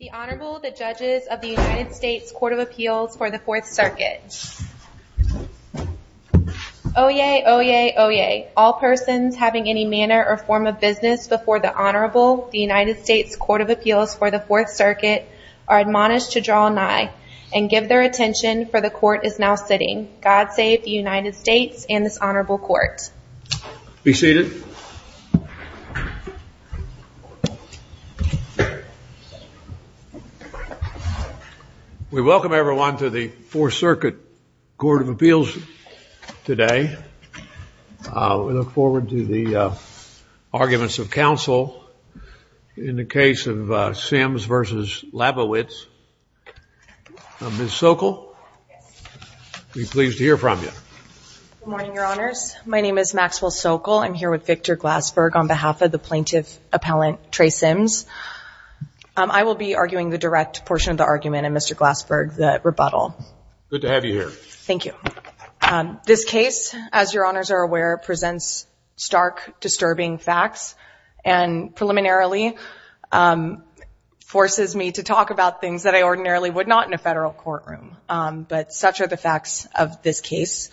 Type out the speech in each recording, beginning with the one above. The Honorable, the Judges of the United States Court of Appeals for the Fourth Circuit. Oyez! Oyez! Oyez! All persons having any manner or form of business before the Honorable, the United States Court of Appeals for the Fourth Circuit, are admonished to draw an eye and give their attention, for the Court is now sitting. God save the United States and this Honorable Court. Be seated. We welcome everyone to the Fourth Circuit Court of Appeals today. We look forward to the arguments of counsel in the case of Sims v. Labowitz. Ms. Sokol, we're pleased to hear from you. Good morning, Your Honors. My name is Maxwell Sokol. I'm here with Victor Glassberg on behalf of the plaintiff appellant, Trey Sims. I will be arguing the direct portion of the argument and Mr. Glassberg, the rebuttal. Good to have you here. Thank you. This case, as Your Honors are aware, presents stark, disturbing facts and preliminarily forces me to talk about things that I ordinarily would not in a federal courtroom, but such are the facts of this case.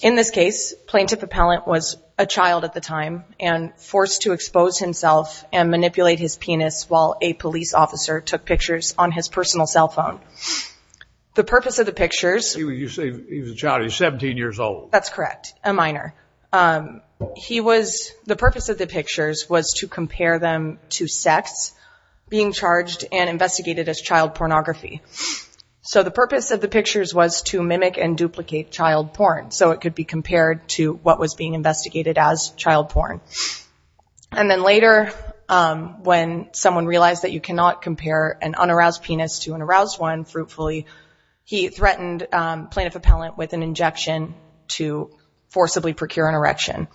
In this case, plaintiff appellant was a child at the time and forced to expose himself and manipulate his penis while a police officer took pictures on his personal cell phone. The purpose of the pictures... You say he was a child. He was 17 years old. That's correct. A minor. He was... The purpose of the pictures was to compare them to sex being charged and investigated as child pornography. So the purpose of the pictures was to mimic and duplicate child porn so it could be compared to what was being investigated as child porn. And then later, when someone realized that you cannot compare an unaroused penis to an aroused one, fruitfully, he threatened plaintiff appellant with an injection to forcibly procure an erection.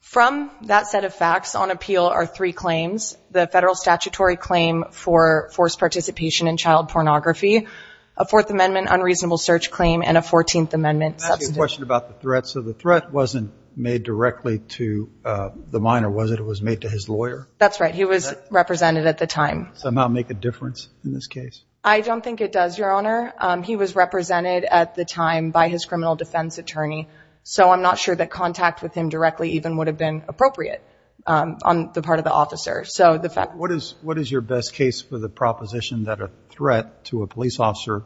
From that set of facts, on appeal are three claims. The federal statutory claim for forced participation in child pornography, a Fourth Amendment unreasonable search claim, and a Fourteenth Amendment... I have a question about the threat. So the threat wasn't made directly to the minor, was it? It was made to his lawyer? That's right. He was represented at the time. Does that somehow make a difference in this case? I don't think it does, Your Honor. He was represented at the time by his criminal defense attorney, so I'm not sure that contact with him directly even would have been appropriate on the part of the officer. So the fact... What is your best case for the proposition that a threat to a police officer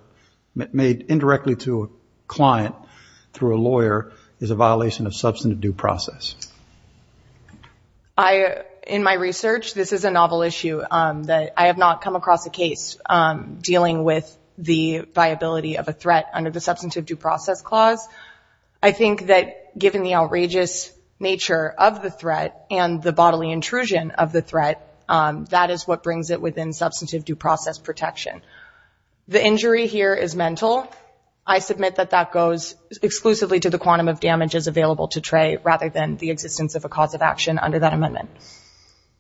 made indirectly to a client through a lawyer is a violation of substantive due process? In my research, this is a novel issue. I have not come across a case dealing with the viability of a threat under the substantive due process clause. I think that given the outrageous nature of the threat and the bodily intrusion of the threat, that is what brings it within substantive due process protection. The injury here is mental. I submit that that goes exclusively to the quantum of damages available to Trey rather than the existence of a cause of action under that amendment.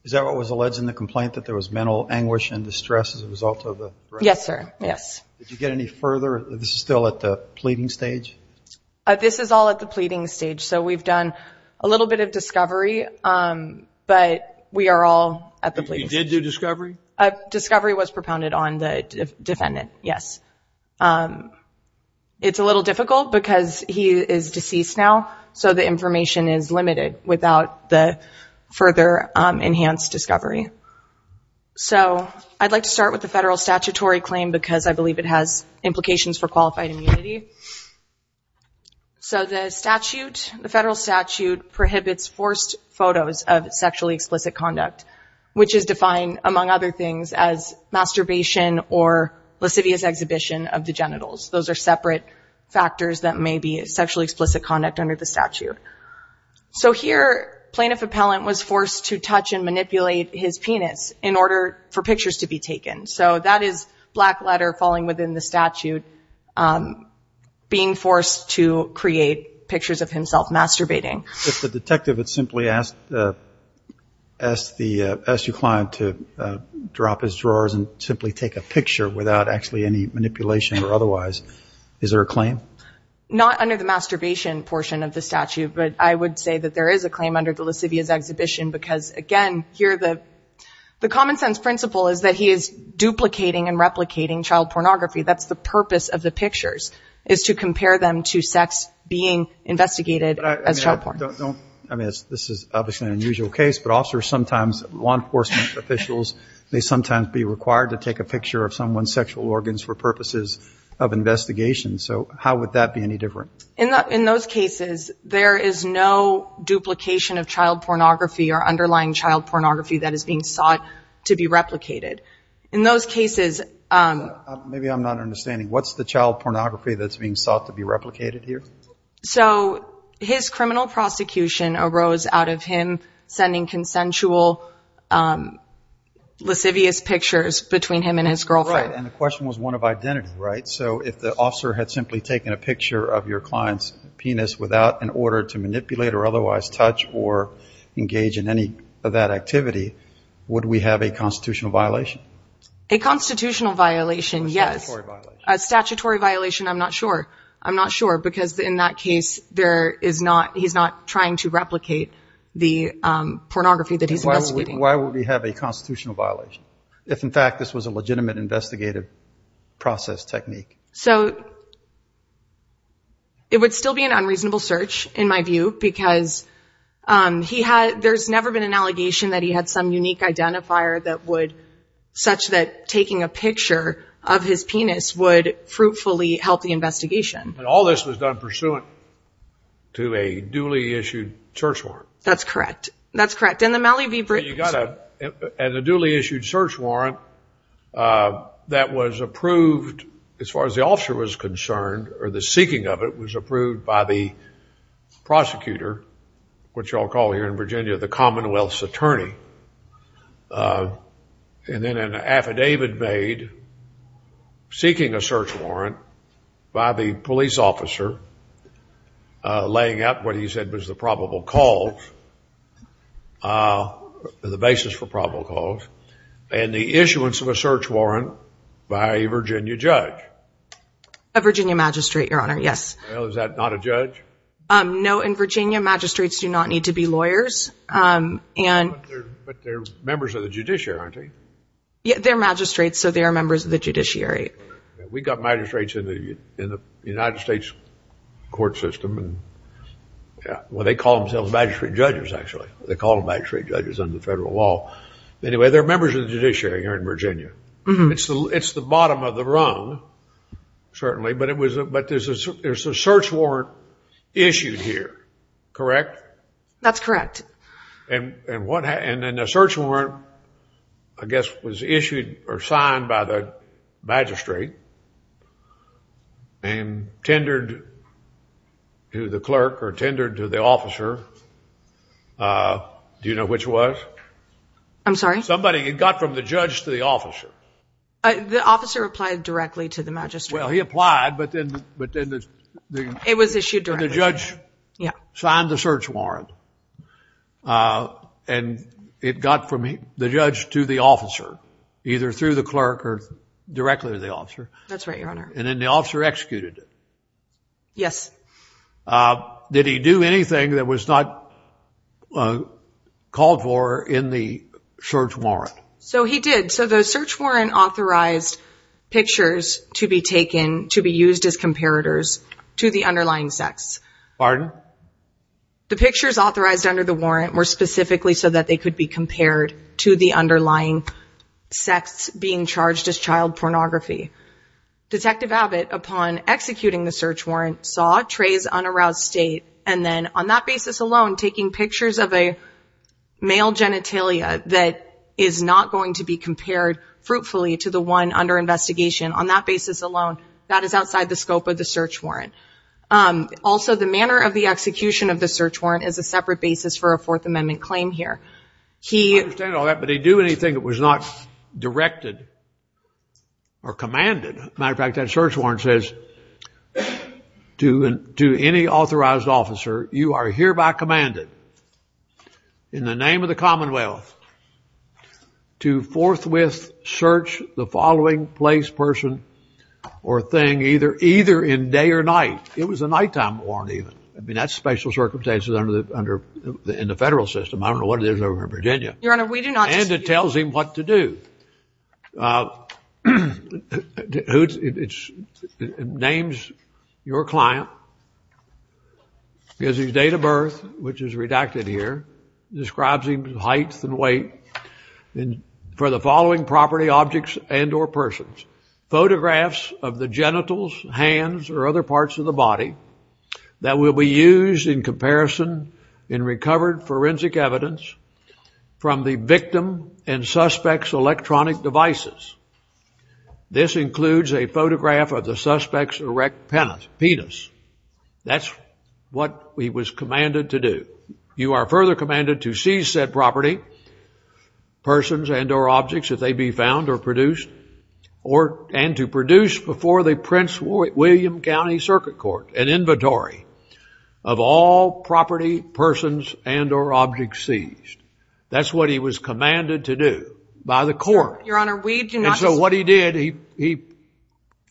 Is that what was alleged in the complaint, that there was mental anguish and distress as a result of the threat? Yes, sir. Yes. Did you get any further? Is this still at the pleading stage? This is all at the pleading stage. So we've done a little bit of discovery, but we are all at the pleading stage. You did do discovery? Discovery was propounded on the defendant, yes. It's a little difficult because he is deceased now, so the information is limited without the further enhanced discovery. So I'd like to start with the federal statutory claim because I believe it has implications for qualified immunity. So the statute, the federal statute, prohibits forced photos of sexually explicit conduct, which is defined, among other things, as masturbation or lascivious exhibition of the genitals. Those are separate factors that may be sexually explicit conduct under the statute. So here, plaintiff appellant was forced to touch and manipulate his penis in order for pictures to be taken. So that is black letter falling within the statute, being forced to create pictures of himself masturbating. If the detective had simply asked the SU client to drop his drawers and simply take a picture Not under the masturbation portion of the statute, but I would say that there is a claim under the lascivious exhibition because, again, the common sense principle is that he is duplicating and replicating child pornography. That's the purpose of the pictures, is to compare them to sex being investigated as child pornography. This is obviously an unusual case, but officers sometimes, law enforcement officials, may sometimes be required to take a picture of someone's sexual organs for purposes of investigation. So how would that be any different? In those cases, there is no duplication of child pornography or underlying child pornography that is being sought to be replicated. In those cases... Maybe I'm not understanding. What's the child pornography that's being sought to be replicated here? So his criminal prosecution arose out of him sending consensual lascivious pictures between him and his girlfriend. Right. And the question was one of identity, right? So if the officer had simply taken a picture of your client's penis without an order to manipulate or otherwise touch or engage in any of that activity, would we have a constitutional violation? A constitutional violation, yes. A statutory violation. A statutory violation, I'm not sure. I'm not sure because in that case, he's not trying to replicate the pornography that he's investigating. Why would we have a constitutional violation if, in fact, this was a legitimate investigative process technique? So it would still be an unreasonable search, in my view, because there's never been an allegation that he had some unique identifier such that taking a picture of his penis would fruitfully help the investigation. And all this was done pursuant to a duly issued search warrant. That's correct. That's correct. As a duly issued search warrant, that was approved, as far as the officer was concerned, or the seeking of it, was approved by the prosecutor, which I'll call here in Virginia the Commonwealth's attorney. And then an affidavit made seeking a search warrant by the police officer laying out what he said was the probable cause, the basis for probable cause, and the issuance of a search warrant by a Virginia judge. A Virginia magistrate, Your Honor, yes. Well, is that not a judge? No, in Virginia, magistrates do not need to be lawyers. But they're members of the judiciary, aren't they? Yeah, they're magistrates, so they're members of the judiciary. We've got magistrates in the United States court system. Well, they call themselves magistrate judges, actually. They call themselves magistrate judges under federal law. Anyway, they're members of the judiciary here in Virginia. It's the bottom of the rung, certainly. But there's a search warrant issued here, correct? That's correct. And then the search warrant, I guess, was issued or signed by the magistrate and tendered to the clerk or tendered to the officer. Do you know which was? I'm sorry? Somebody. It got from the judge to the officer. The officer applied directly to the magistrate. Well, he applied, but then the judge signed the search warrant. And it got from the judge to the officer, either through the clerk or directly to the officer. That's right, Your Honor. And then the officer executed it. Yes. Did he do anything that was not called for in the search warrant? So he did. So the search warrant authorized pictures to be taken, to be used as comparators to the underlying sex. Pardon? The pictures authorized under the warrant were specifically so that they could be compared to the underlying sex being charged as child pornography. Detective Abbott, upon executing the search warrant, saw Tray's unaroused state and then, on that basis alone, taking pictures of a male genitalia that is not going to be compared fruitfully to the one under investigation, on that basis alone, that is outside the scope of the search warrant. Also, the manner of the execution of the search warrant is a separate basis for a Fourth Amendment claim here. I understand all that, but did he do anything that was not directed or commanded? Matter of fact, that search warrant says to any authorized officer, you are hereby commanded in the name of the Commonwealth to forthwith search the following place, or thing, either in day or night. It was a nighttime warrant, even. I mean, that's special circumstances in the federal system. I don't know what it is over in Virginia. Your Honor, we do not. And it tells him what to do. It names your client, gives his date of birth, which is redacted here, describes his height and weight, for the following property, objects, and or persons. Photographs of the genitals, hands, or other parts of the body that will be used in comparison in recovered forensic evidence from the victim and suspect's electronic devices. This includes a photograph of the suspect's erect penis. That's what he was commanded to do. You are further commanded to seize said property, persons and or objects, if they be found or produced, and to produce before the Prince William County Circuit Court an inventory of all property, persons, and or objects seized. That's what he was commanded to do by the court. Your Honor, we do not. And so what he did, he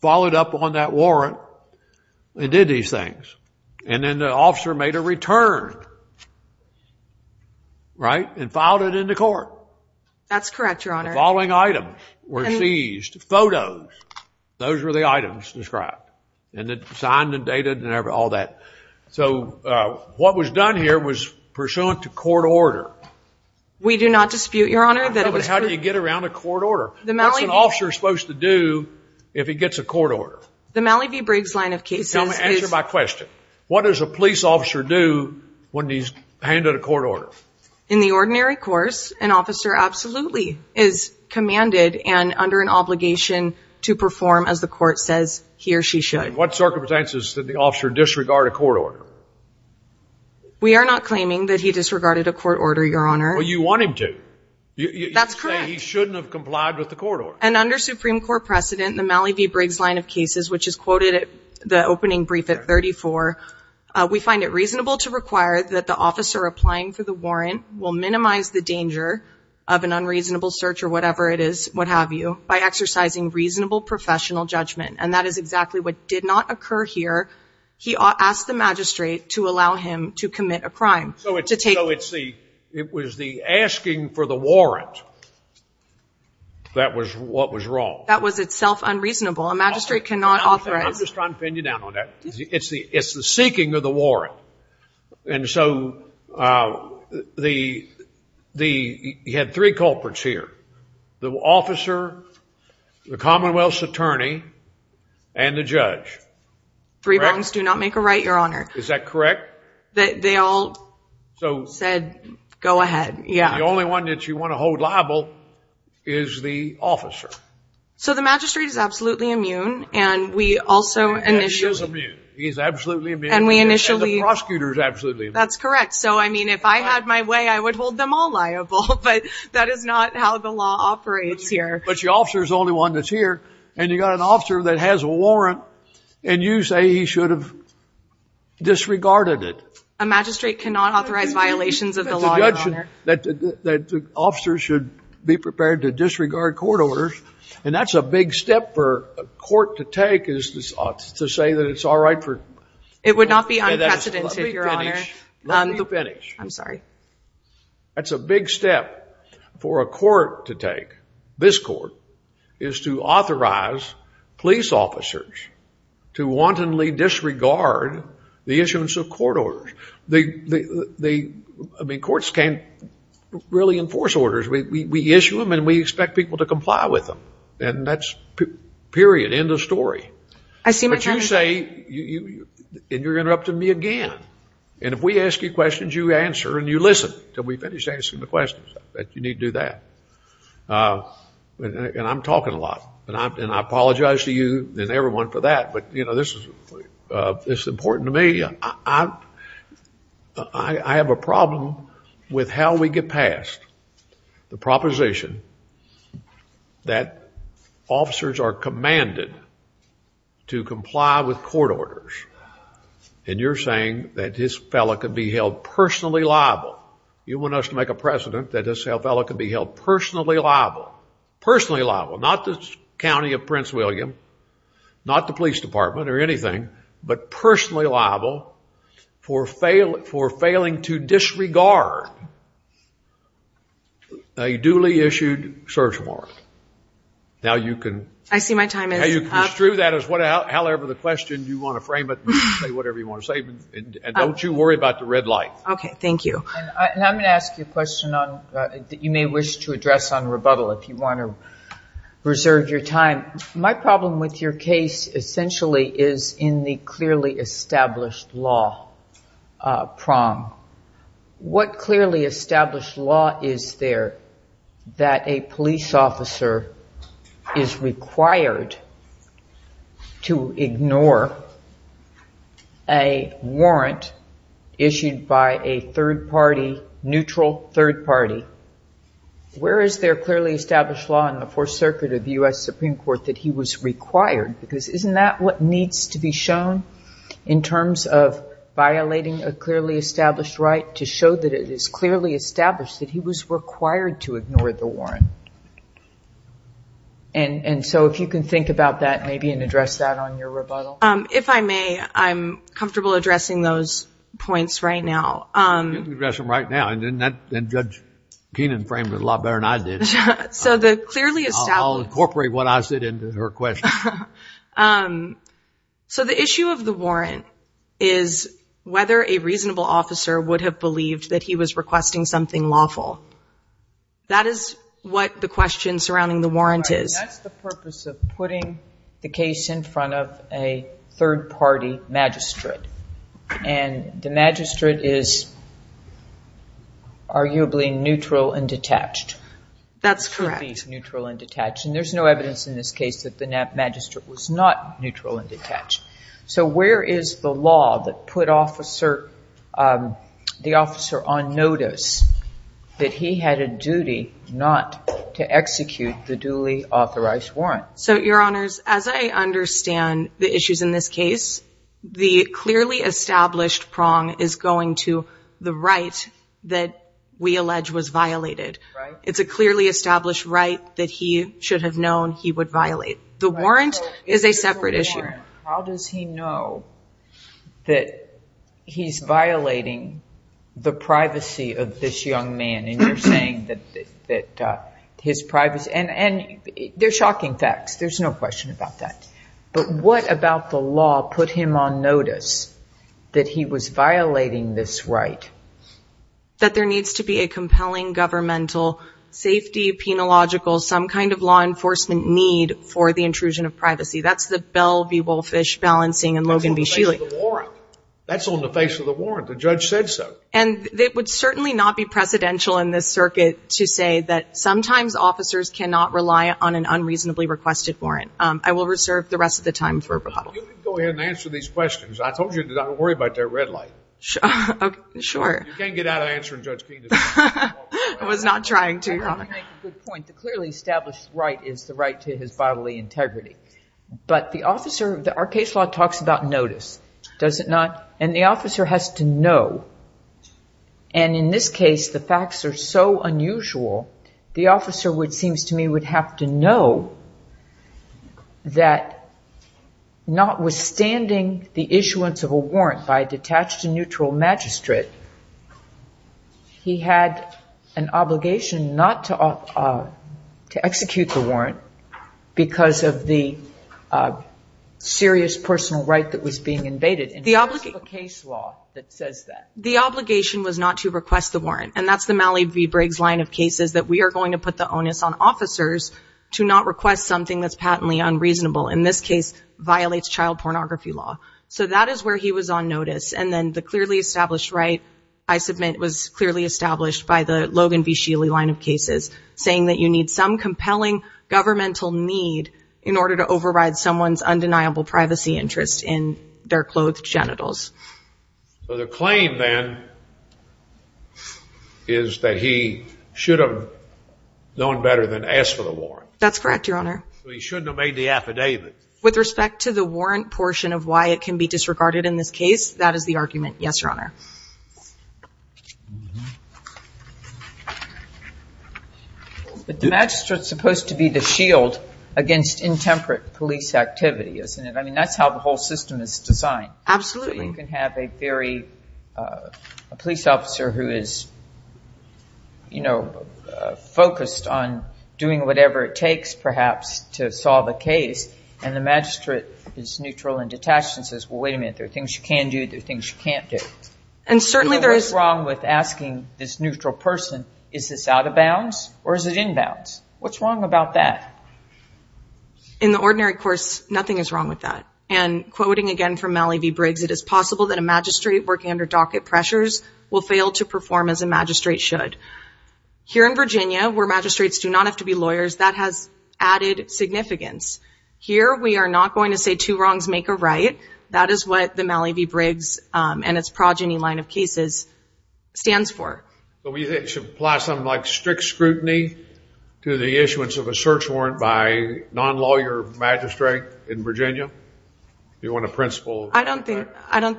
followed up on that warrant and did these things. And then the officer made a return. Right? And filed it into court. That's correct, Your Honor. The following items were seized. Photos. Those were the items described. And it's signed and dated and all that. So what was done here was pursuant to court order. We do not dispute, Your Honor. How do you get around a court order? What's an officer supposed to do if he gets a court order? The Mallee v. Briggs line of cases is... Answer my question. What does a police officer do when he's handed a court order? In the ordinary course, an officer absolutely is commanded and under an obligation to perform as the court says he or she should. What circumstances did the officer disregard a court order? We are not claiming that he disregarded a court order, Your Honor. Well, you want him to. That's correct. You're saying he shouldn't have complied with the court order. And under Supreme Court precedent, the Mallee v. Briggs line of cases, which is quoted at the opening brief at 34, we find it reasonable to require that the officer applying for the warrant will minimize the danger of an unreasonable search or whatever it is, what have you, by exercising reasonable professional judgment. And that is exactly what did not occur here. He asked the magistrate to allow him to commit a crime. So it was the asking for the warrant that was what was wrong. That was itself unreasonable. A magistrate cannot offer it. I'm just trying to pin you down on that. It's the seeking of the warrant. And so you had three culprits here, the officer, the Commonwealth's attorney, and the judge. Three burdens do not make a right, Your Honor. Is that correct? They all said, go ahead. The only one that you want to hold liable is the officer. So the magistrate is absolutely immune. And he's absolutely immune. And the prosecutor is absolutely immune. That's correct. So, I mean, if I had my way, I would hold them all liable. But that is not how the law operates here. But the officer is the only one that's here. And you've got an officer that has a warrant. And you say he should have disregarded it. A magistrate cannot authorize violations of the law, Your Honor. That the officer should be prepared to disregard court orders. And that's a big step for a court to take is to say that it's all right for. It would not be unprecedented, Your Honor. Let me finish. Let me finish. I'm sorry. That's a big step for a court to take, this court, is to authorize police officers to wantonly disregard the issuance of court orders. I mean, courts can't really enforce orders. We issue them and we expect people to comply with them. And that's period. End of story. But you say, and you're interrupting me again. And if we ask you questions, you answer and you listen until we finish answering the questions. You need to do that. And I'm talking a lot. And I apologize to you and everyone for that. But, you know, this is important to me. I have a problem with how we get past the proposition that officers are commanded to comply with court orders. And you're saying that this fellow could be held personally liable. You want us to make a precedent that this fellow could be held personally liable. Personally liable. Not the county of Prince William. Not the police department or anything. But personally liable for failing to disregard a duly issued search warrant. Now you can... I see my time is up. However the question, you want to frame it, say whatever you want to say. And don't you worry about the red light. Okay, thank you. And I'm going to ask you a question that you may wish to address on rebuttal if you want to reserve your time. My problem with your case essentially is in the clearly established law prom. What clearly established law is there that a police officer is required to ignore a warrant issued by a third party, neutral third party? Where is there clearly established law in the Fourth Circuit of the U.S. Supreme Court that he was required? Because isn't that what needs to be shown in terms of violating a clearly established right to show that it is clearly established that he was required to ignore the warrant? And so if you can think about that maybe and address that on your rebuttal. If I may, I'm comfortable addressing those points right now. You can address them right now. And Judge Keenan framed it a lot better than I did. So the clearly established... I'll incorporate what I said into her question. So the issue of the warrant is whether a reasonable officer would have believed that he was requesting something lawful. That is what the question surrounding the warrant is. That's the purpose of putting the case in front of a third party magistrate. And the magistrate is arguably neutral and detached. That's correct. He's neutral and detached. And there's no evidence in this case that the magistrate was not neutral and detached. So where is the law that put the officer on notice that he had a duty not to execute the duly authorized warrant? So, Your Honors, as I understand the issues in this case, the clearly established prong is going to the right that we allege was violated. It's a clearly established right that he should have known he would violate. The warrant is a separate issue. How does he know that he's violating the privacy of this young man? And you're saying that his privacy... And they're shocking facts. There's no question about that. But what about the law put him on notice that he was violating this right? That there needs to be a compelling governmental safety, penological, some kind of law enforcement need for the intrusion of privacy. That's the Bell v. Wolffish balancing in Logan v. Shealy. That's on the face of the warrant. That's on the face of the warrant. The judge said so. And it would certainly not be precedential in this circuit to say that sometimes officers cannot rely on an unreasonably requested warrant. I will reserve the rest of the time for Bob. You can go ahead and answer these questions. I told you not to worry about that red light. Sure. You can't get out of answering Judge Keenan's questions. I was not trying to. You make a good point. The clearly established right is the right to his bodily integrity. But the officer, our case law talks about notice. Does it not? And the officer has to know. And in this case, the facts are so unusual, the officer, it seems to me, would have to know that notwithstanding the issuance of a warrant, and the fact that the warrant was notified, detached and neutral magistrate, he had an obligation not to execute the warrant because of the serious personal right that was being invaded. The case law that says that. The obligation was not to request the warrant. And that's the Mallee v. Briggs line of cases, that we are going to put the onus on officers to not request something that's patently unreasonable. In this case, violates child pornography law. So that is where he was on notice. And then the clearly established right, I submit, was clearly established by the Logan v. Sheely line of cases, saying that you need some compelling governmental need in order to override someone's undeniable privacy interest in their clothed genitals. So the claim, then, is that he should have known better than to ask for the warrant. That's correct, Your Honor. So he shouldn't have made the affidavit. With respect to the warrant portion of why it can be disregarded in this case, that is the argument, yes, Your Honor. The magistrate is supposed to be the shield against intemperate police activity, isn't it? I mean, that's how the whole system is designed. Absolutely. You can have a very, a police officer who is, you know, focused on doing whatever it takes, perhaps, to solve a case, and the magistrate is neutral and detached and says, well, wait a minute. There are things you can do. There are things you can't do. And certainly there is. What's wrong with asking this neutral person, is this out of bounds or is it in bounds? What's wrong about that? In the ordinary course, nothing is wrong with that. And quoting again from Mallee v. Briggs, it is possible that a magistrate working under docket pressures will fail to perform as a magistrate should. Here in Virginia, where magistrates do not have to be lawyers, that has added significance. Here we are not going to say two wrongs make a right. That is what the Mallee v. Briggs and its progeny line of cases stands for. So you think it should apply something like strict scrutiny to the issuance of a search warrant by a non-lawyer magistrate in Virginia? You want a principle? I don't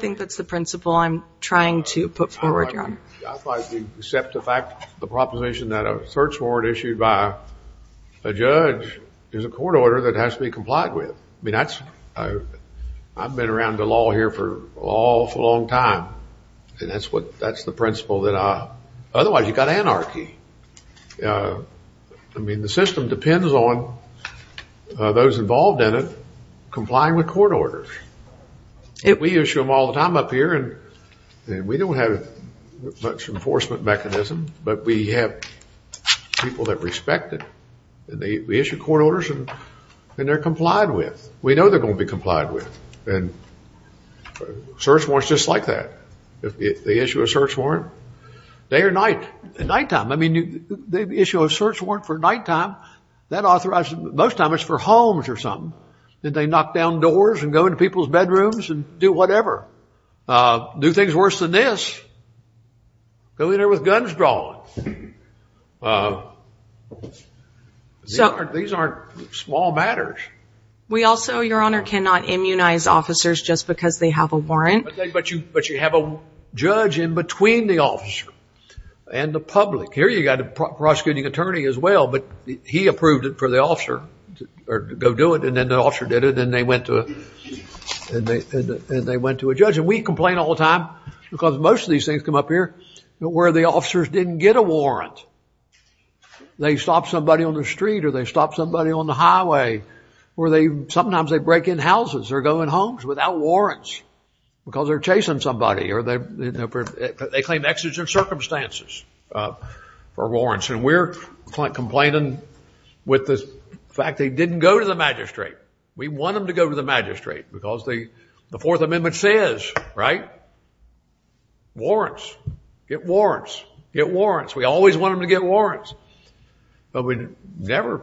think that's the principle I'm trying to put forward, John. I'd like to accept the fact, the proposition that a search warrant issued by a judge is a court order that has to be complied with. I mean, I've been around the law here for an awful long time. And that's the principle that otherwise you've got anarchy. I mean, the system depends on those involved in it complying with court orders. We issue them all the time up here, and we don't have much enforcement mechanism, but we have people that respect it. We issue court orders, and they're complied with. We know they're going to be complied with. Search warrant's just like that. They issue a search warrant day or night, nighttime. I mean, they issue a search warrant for nighttime. That authorizes, most of the time, it's for homes or something. They knock down doors and go into people's bedrooms and do whatever. Do things worse than this. Go in there with guns drawn. These aren't small matters. We also, Your Honor, cannot immunize officers just because they have a warrant. But you have a judge in between the officer and the public. Here you've got a prosecuting attorney as well, but he approved it for the officer to go do it, and then the officer did it, and then they went to a judge. And we complain all the time, because most of these things come up here, where the officers didn't get a warrant. They stop somebody on the street or they stop somebody on the highway, or sometimes they break in houses or go in homes without warrants, because they're chasing somebody, or they claim extra circumstances for warrants. And we're complaining with the fact they didn't go to the magistrate. We want them to go to the magistrate, because the Fourth Amendment says, right, warrants, get warrants, get warrants. We always want them to get warrants. But we never,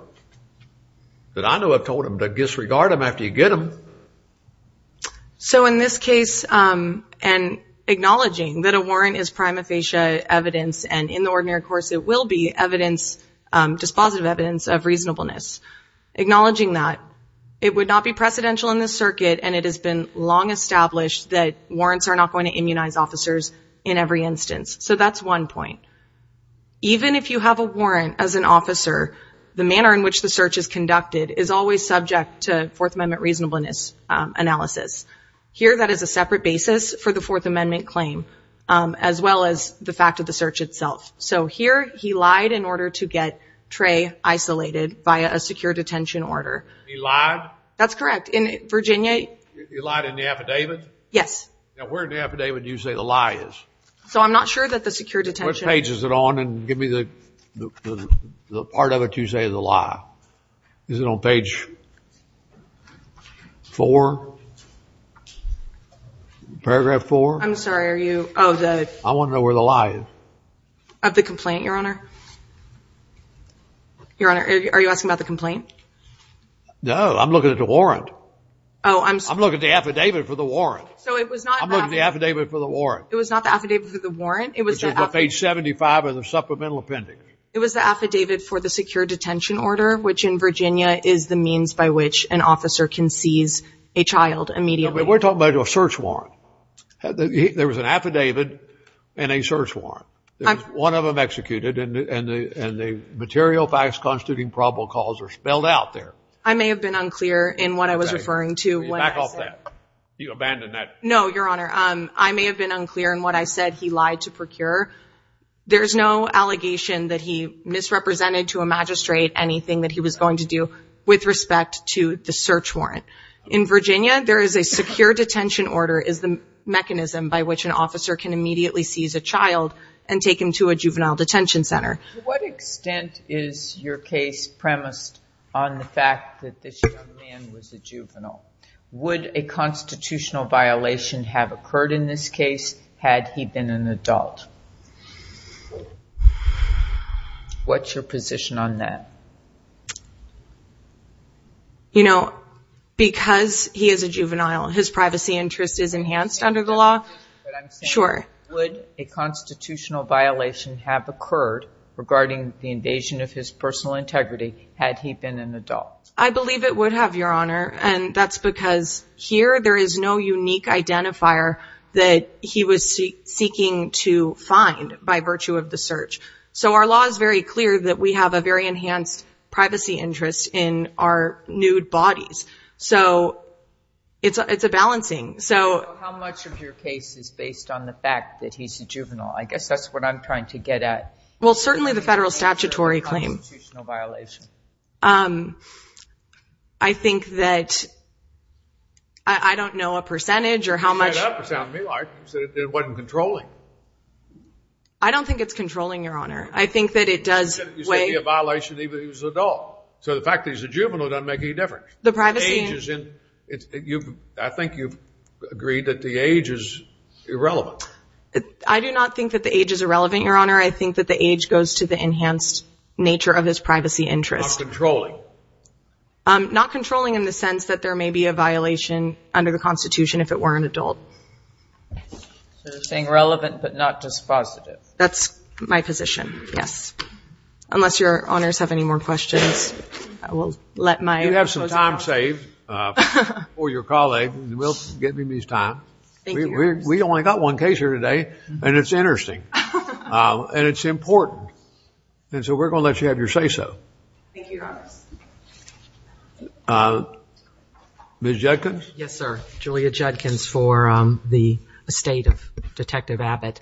because I know I've told them to disregard them after you get them. So in this case, and acknowledging that a warrant is prima facie evidence, and in the ordinary course it will be evidence, dispositive evidence of reasonableness, acknowledging that, it would not be precedential in this circuit, and it has been long established that warrants are not going to immunize officers in every instance. So that's one point. Even if you have a warrant as an officer, the manner in which the search is conducted is always subject to Fourth Amendment reasonableness analysis. Here that is a separate basis for the Fourth Amendment claim, as well as the fact of the search itself. So here he lied in order to get Trey isolated via a secure detention order. He lied? That's correct. He lied in the affidavit? Yes. Now where in the affidavit do you say the lie is? So I'm not sure that the secure detention... Which page is it on? And give me the part of it you say is a lie. Is it on page four? Paragraph four? I'm sorry, are you... I want to know where the lie is. Of the complaint, Your Honor? Your Honor, are you asking about the complaint? No, I'm looking at the warrant. I'm looking at the affidavit for the warrant. I'm looking at the affidavit for the warrant. It was not the affidavit for the warrant. It was the affidavit... It's on page 75 of the supplemental appendix. It was the affidavit for the secure detention order, which in Virginia is the means by which an officer can seize a child immediately. We're talking about a search warrant. There was an affidavit and a search warrant. One of them executed, and the material by its constituting probable cause are spelled out there. I may have been unclear in what I was referring to. Back off that. You abandoned that. No, Your Honor. I may have been unclear in what I said he lied to procure. There is no allegation that he misrepresented to a magistrate anything that he was going to do with respect to the search warrant. In Virginia, there is a secure detention order is the mechanism by which an officer can immediately seize a child and take him to a juvenile detention center. To what extent is your case premised on the fact that this young man was a juvenile? Would a constitutional violation have occurred in this case had he been an adult? What's your position on that? You know, because he is a juvenile, his privacy interest is enhanced under the law. Sure. Would a constitutional violation have occurred regarding the invasion of his personal integrity had he been an adult? I believe it would have, Your Honor. And that's because here there is no unique identifier that he was seeking to find by virtue of the search. So our law is very clear that we have a very enhanced privacy interest in our nude bodies. So it's a balancing. How much of your case is based on the fact that he's a juvenile? I guess that's what I'm trying to get at. Well, certainly the federal statutory claim. Constitutional violation. I think that... I don't know a percentage or how much... It doesn't sound to me like it wasn't controlling. I don't think it's controlling, Your Honor. I think that it does weigh... You said it would be a violation even if he was an adult. So the fact that he's a juvenile doesn't make any difference. The privacy... I think you've agreed that the age is irrelevant. I do not think that the age is irrelevant, Your Honor. I think that the age goes to the enhanced nature of his privacy interest. Not controlling. Not controlling in the sense that there may be a violation under the Constitution if it were an adult. So it's being relevant but not dispositive. That's my position, yes. Unless Your Honors have any more questions, I will let my... You have some time saved for your colleague. We'll give him his time. We only got one case here today, and it's interesting. And it's important. And so we're going to let you have your say-so. Thank you, Your Honor. Ms. Judkins? Yes, sir. Julia Judkins for the estate of Detective Abbott.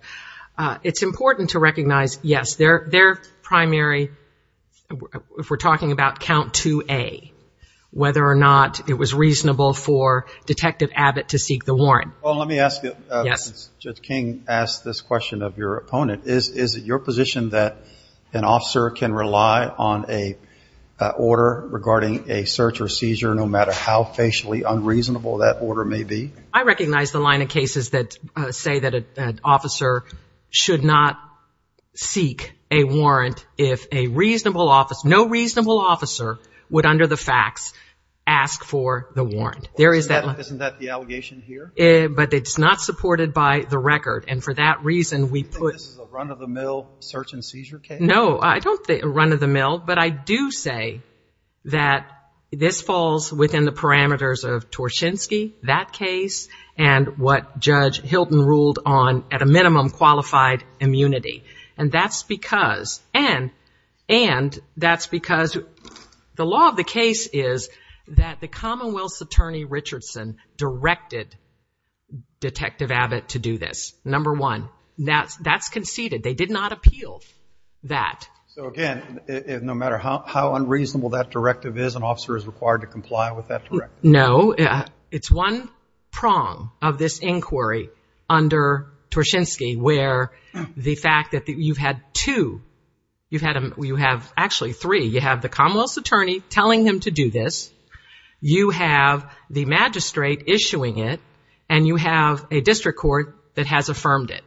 It's important to recognize, yes, their primary... If we're talking about Count 2A, whether or not it was reasonable for Detective Abbott to seek the warrant. Well, let me ask you. Yes. Since Judge King asked this question of your opponent, is it your position that an officer can rely on a order regarding a search or seizure no matter how facially unreasonable that order may be? I recognize the line of cases that say that an officer should not seek a warrant if a reasonable officer... No reasonable officer would, under the facts, ask for the warrant. Isn't that the allegation here? But it's not supported by the record. And for that reason, we put... You think this is a run-of-the-mill search and seizure case? No, I don't think a run-of-the-mill. But I do say that this falls within the parameters of Torshinsky, that case, and what Judge Hilton ruled on at a minimum qualified immunity. And that's because... Detective Abbott to do this, number one. That's conceded. They did not appeal that. So, again, no matter how unreasonable that directive is, an officer is required to comply with that directive? No. It's one prong of this inquiry under Torshinsky where the fact that you've had two... You've had... Actually, three. You have the Commonwealth attorney telling him to do this. You have the magistrate issuing it. And you have a district court that has affirmed it.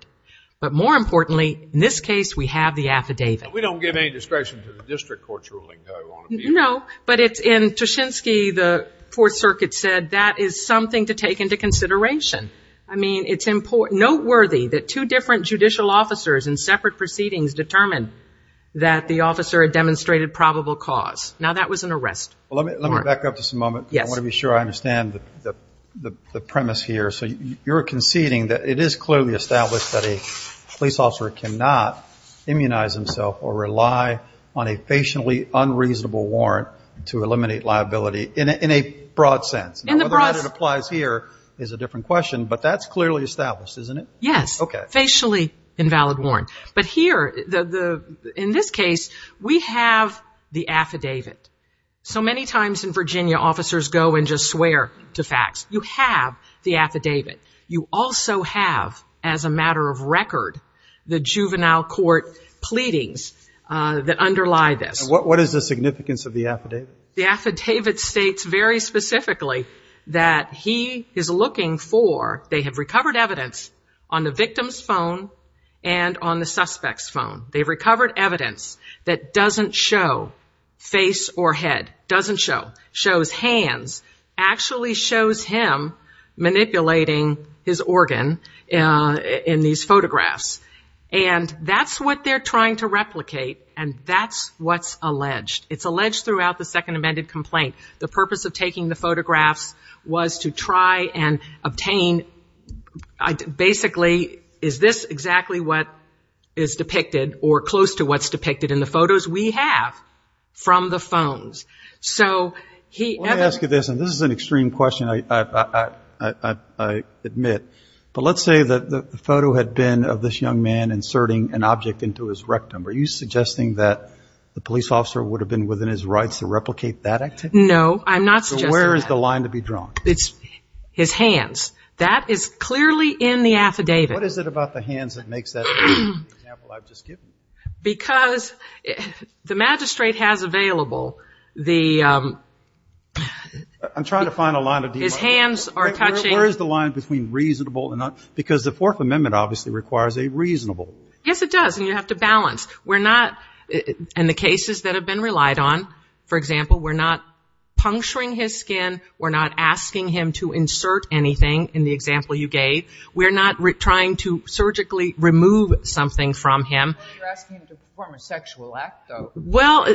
But more importantly, in this case, we have the affidavit. But we don't give any discretion to the district courts ruling, do we? No. But in Torshinsky, the Fourth Circuit said that is something to take into consideration. I mean, it's important... Noteworthy that two different judicial officers in separate proceedings determined that the officer demonstrated probable cause. Now, that was an arrest. Let me back up just a moment. I want to be sure I understand the premise here. So, you're conceding that it is clearly established that a police officer cannot immunize himself or rely on a facially unreasonable warrant to eliminate liability in a broad sense. In the broad... Whether or not it applies here is a different question. But that's clearly established, isn't it? Yes. Facially invalid warrant. But here, in this case, we have the affidavit. So many times in Virginia, officers go and just swear to facts. You have the affidavit. You also have, as a matter of record, the juvenile court pleadings that underlie this. What is the significance of the affidavit? The affidavit states very specifically that he is looking for... They have recovered evidence on the victim's phone and on the suspect's phone. They've recovered evidence that doesn't show face or head. Doesn't show. Shows hands. Actually shows him manipulating his organ in these photographs. And that's what they're trying to replicate. And that's what's alleged. It's alleged throughout the second amended complaint. The purpose of taking the photographs was to try and obtain... Basically, is this exactly what is depicted or close to what's depicted in the photos we have from the phones? So he... Let me ask you this. And this is an extreme question, I admit. But let's say that the photo had been of this young man inserting an object into his rectum. Are you suggesting that the police officer would have been within his rights to replicate that activity? No, I'm not suggesting that. So where is the line to be drawn? His hands. That is clearly in the affidavit. What is it about the hands that makes that the example I've just given? Because the magistrate has available the... I'm trying to find a line to be drawn. His hands are touching... Where is the line between reasonable and not... Because the fourth amendment obviously requires a reasonable. Yes, it does. And you have to balance. We're not... In the cases that have been relied on, for example, we're not puncturing his skin. We're not asking him to insert anything in the example you gave. We're not trying to surgically remove something from him. You're asking him to perform a sexual act, though. Well...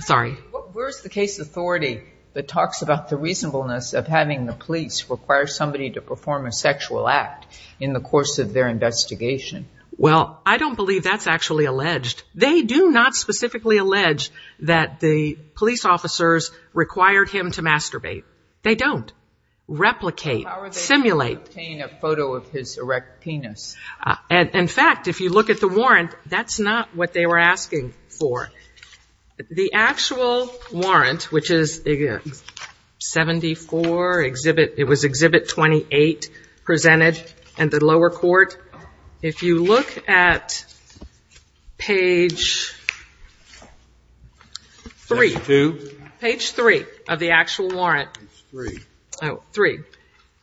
Sorry. Where is the case authority that talks about the reasonableness of having the police require somebody to perform a sexual act in the course of their investigation? Well, I don't believe that's actually alleged. They do not specifically allege that the police officers required him to masturbate. They don't. Replicate. Simulate. How are they able to obtain a photo of his erect penis? In fact, if you look at the warrant, that's not what they were asking for. The actual warrant, which is 74, it was Exhibit 28 presented in the lower court. If you look at page 3. Page 2? Page 3 of the actual warrant. Page 3. Oh, 3.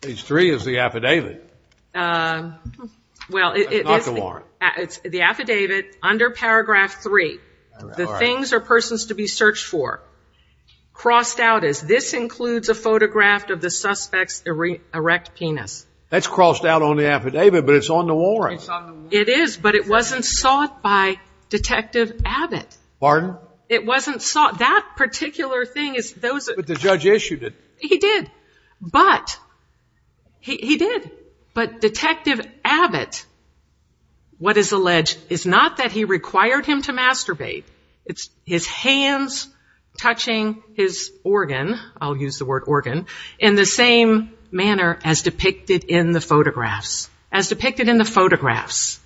Page 3 is the affidavit. Well, it's... It's not the warrant. It's the affidavit under paragraph 3. The things or persons to be searched for. Crossed out as this includes a photograph of the suspect's erect penis. That's crossed out on the affidavit, but it's on the warrant. It's on the warrant. It is, but it wasn't sought by Detective Abbott. Pardon? It wasn't sought. That particular thing is... But the judge issued it. He did. But... He did. But Detective Abbott, what is alleged, is not that he required him to masturbate. It's his hands touching his organ. I'll use the word organ. In the same manner as depicted in the photographs. As depicted in the photographs.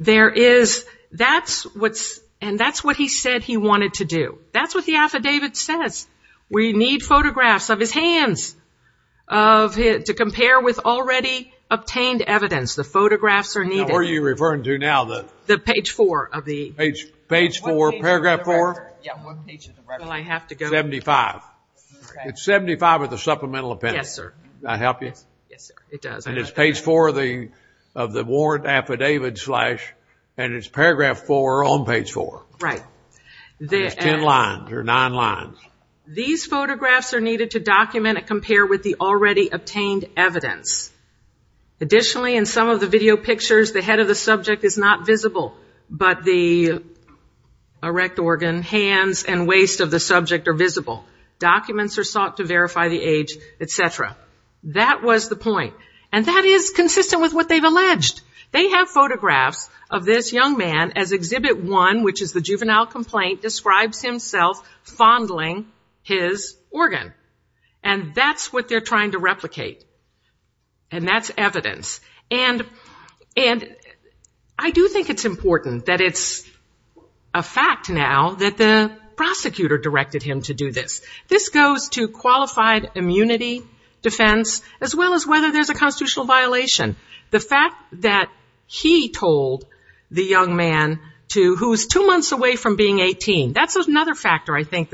There is... That's what's... And that's what he said he wanted to do. That's what the affidavit says. We need photographs of his hands. To compare with already obtained evidence. The photographs are needed. Now, what are you referring to now? The page 4 of the... Page 4, paragraph 4? Yeah, one page of the record. 75. It's 75 of the supplemental appendix. Yes, sir. Does that help you? Yes, sir. It does. And it's page 4 of the warrant affidavit and it's paragraph 4 on page 4. Right. It's in lines or not in lines. These photographs are needed to document and compare with the already obtained evidence. Additionally, in some of the video pictures, the head of the subject is not visible, but the erect organ, hands, and waist of the subject are visible. Documents are sought to verify the age, et cetera. That was the point. And that is consistent with what they've alleged. They have photographs of this young man as Exhibit 1, which is the juvenile complaint, describes himself fondling his organ. And that's what they're trying to replicate. And that's evidence. And I do think it's important that it's a fact now that the prosecutor directed him to do this. This goes to qualified immunity, defense, as well as whether there's a constitutional violation. The fact that he told the young man who was two months away from being 18, that's another factor I think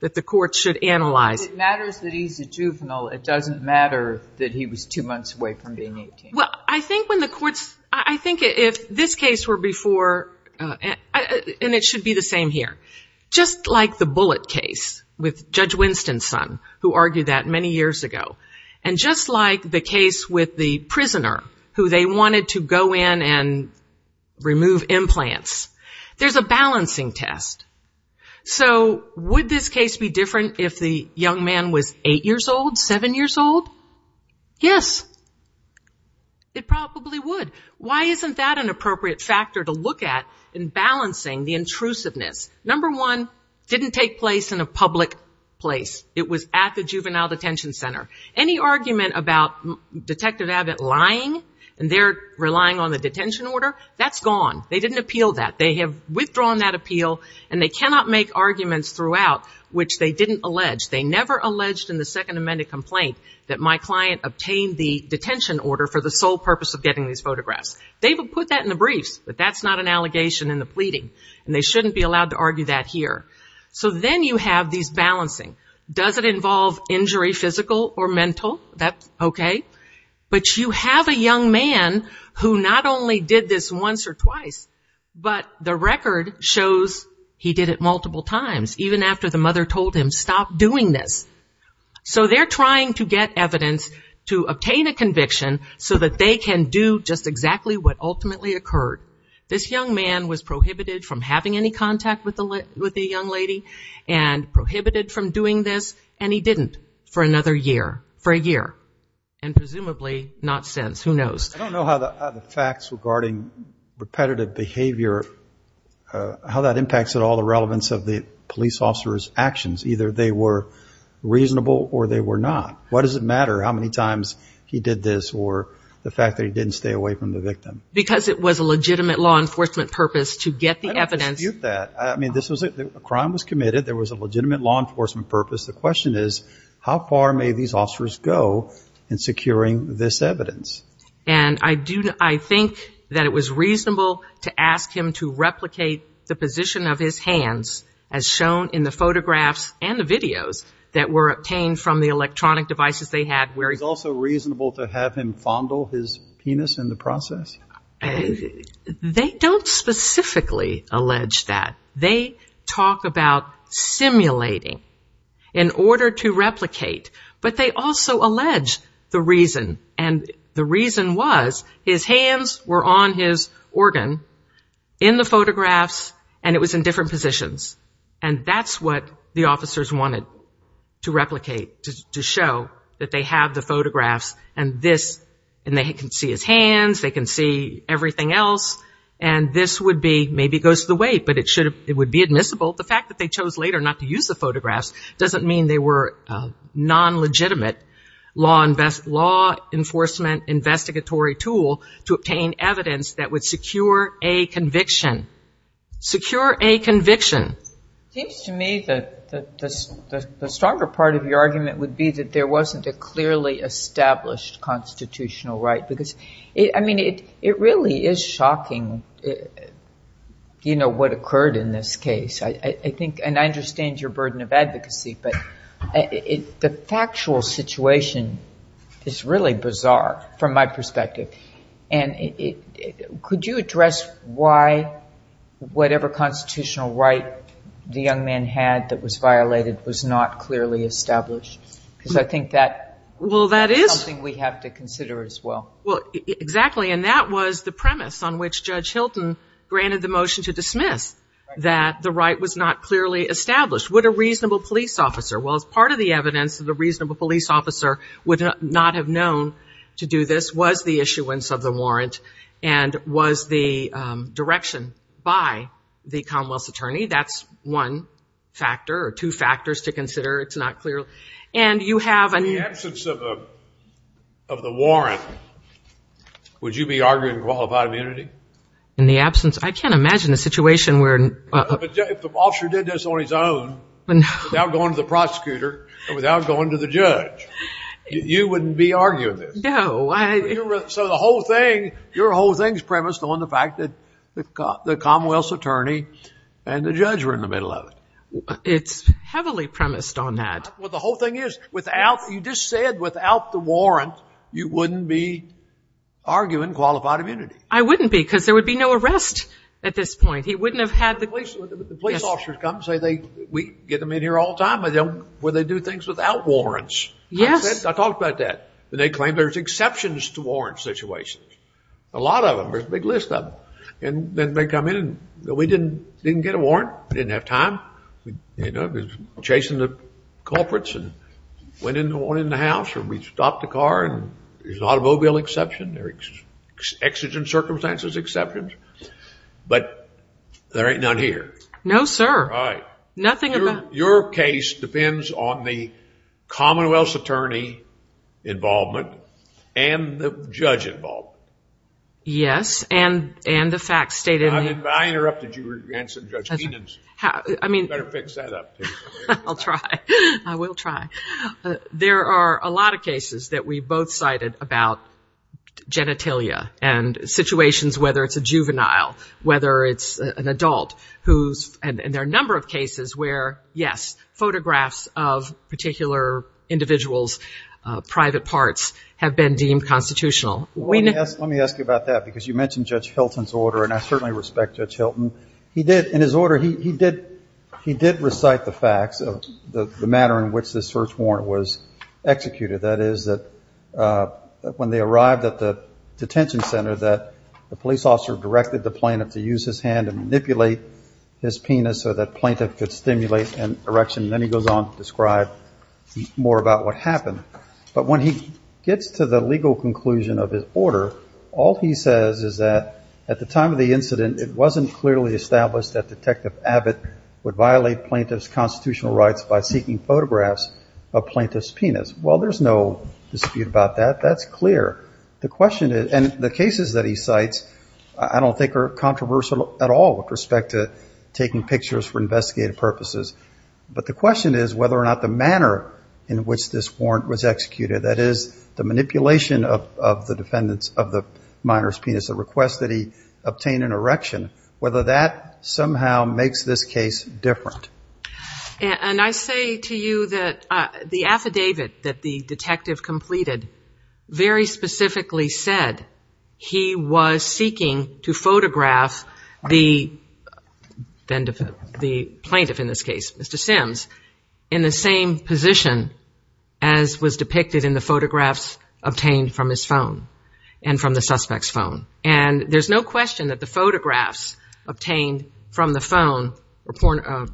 that the courts should analyze. It matters that he's a juvenile. It doesn't matter that he was two months away from being 18. Well, I think when the courts, I think if this case were before, and it should be the same here, just like the Bullitt case with Judge Winston's son, who argued that many years ago, and just like the case with the prisoner, who they wanted to go in and remove implants, there's a balancing test. So, would this case be different if the young man was eight years old, seven years old? Yes. It probably would. Why isn't that an appropriate factor to look at in balancing the intrusiveness? Number one, didn't take place in a public place. It was at the juvenile detention center. Any argument about Detective Abbott lying, and they're relying on the detention order, that's gone. They didn't appeal that. They have withdrawn that appeal, and they cannot make arguments throughout which they didn't allege. They never alleged in the Second Amendment complaint that my client obtained the detention order for the sole purpose of getting these photographs. They've put that in the brief, but that's not an allegation in the pleading, and they shouldn't be allowed to argue that here. So, then you have these balancing. Does it involve injury, physical or mental? That's okay. But you have a young man who not only did this once or twice, but the record shows he did it multiple times, even after the mother told him, stop doing this. So, they're trying to get evidence to obtain a conviction so that they can do just exactly what ultimately occurred. This young man was prohibited from having any contact with the young lady and prohibited from doing this, and he didn't for another year, for a year, and presumably not since. Who knows? I don't know how the facts regarding repetitive behavior, how that impacts at all the relevance of the police officer's actions. Either they were reasonable or they were not. Why does it matter how many times he did this or the fact that he didn't stay away from the victim? Because it was a legitimate law enforcement purpose to get the evidence. I don't dispute that. A crime was committed. There was a legitimate law enforcement purpose. The question is, how far may these officers go in securing this evidence? And I think that it was reasonable to ask him to replicate the position of his hands, as shown in the photographs and the videos that were obtained from the electronic devices they had. Was it also reasonable to have him fondle his penis in the process? They don't specifically allege that. They talk about simulating in order to replicate, but they also allege the reason. And the reason was his hands were on his organ in the photographs and it was in different positions. And that's what the officers wanted to replicate, to show that they have the photographs and this, and they can see his hands, they can see everything else, and this would be, maybe it goes to the wait, but it would be admissible. The fact that they chose later not to use the photographs doesn't mean they were a non-legitimate law enforcement tool to obtain evidence that would secure a conviction. Secure a conviction. It seems to me that the stronger part of your argument would be that there wasn't a clearly established constitutional right. Because, I mean, it really is shocking, you know, what occurred in this case. I think, and I understand your burden of advocacy, but the factual situation is really bizarre from my perspective. And could you address why whatever constitutional right the young man had that was violated was not clearly established? Because I think that's something we have to consider as well. Well, exactly. And that was the premise on which Judge Hilton granted the motion to dismiss, that the right was not clearly established. Would a reasonable police officer, well, part of the evidence that a reasonable police officer would not have known to do this was the issuance of the warrant and was the direction by the Commonwealth's attorney. That's one factor or two factors to consider. It's not clear. In the absence of the warrant, would you be arguing for qualified immunity? In the absence? I can't imagine a situation where... If the officer did this on his own, without going to the prosecutor or without going to the judge, you wouldn't be arguing this. No. So the whole thing, your whole thing is premised on the fact that the Commonwealth's attorney and the judge were in the middle of it. It's heavily premised on that. Well, the whole thing is, you just said without the warrant, you wouldn't be arguing qualified immunity. I wouldn't be, because there would be no arrest at this point. The police officers come and say, we get them in here all the time, but would they do things without warrants? Yes. I talked about that. And they claim there's exceptions to warrant situations. A lot of them. There's a big list of them. And then they come in and go, we didn't get a warrant. We didn't have time. We were chasing the culprits and went in the house and we stopped the car. There's an automobile exception. There's exigent circumstances exceptions. But there ain't none here. No, sir. Right. Your case depends on the Commonwealth's attorney involvement and the judge involvement. Yes. And the facts state in there. I interrupted you. You were answering Judge Meenan's. You better fix that up. I'll try. I will try. There are a lot of cases that we both cited about genitalia and situations, whether it's a juvenile, whether it's an adult. And there are a number of cases where, yes, photographs of particular individuals' private parts have been deemed constitutional. Let me ask you about that. Because you mentioned Judge Hilton's order, and I certainly respect Judge Hilton. He did, in his order, he did recite the fact of the manner in which this search warrant was executed. That is, that when they arrived at the detention center, that the police officer directed the plaintiff to use his hand and manipulate his penis so that plaintiff could stimulate an erection. Then he goes on to describe more about what happened. But when he gets to the legal conclusion of his order, all he says is that at the time of the incident, it wasn't clearly established that Detective Abbott would violate plaintiff's constitutional rights by taking photographs of plaintiff's penis. Well, there's no dispute about that. That's clear. The question is, and the cases that he cites I don't think are controversial at all with respect to taking pictures for investigative purposes. But the question is whether or not the manner in which this warrant was executed, that is, the manipulation of the defendant's, of the minor's penis, the request that he obtain an erection, whether that somehow makes this case different. And I say to you that the affidavit that the detective completed very specifically said he was seeking to photograph the plaintiff in this case, Mr. Sims, in the same position as was depicted in the photographs obtained from his phone and from the suspect's phone. And there's no question that the photographs obtained from the phone are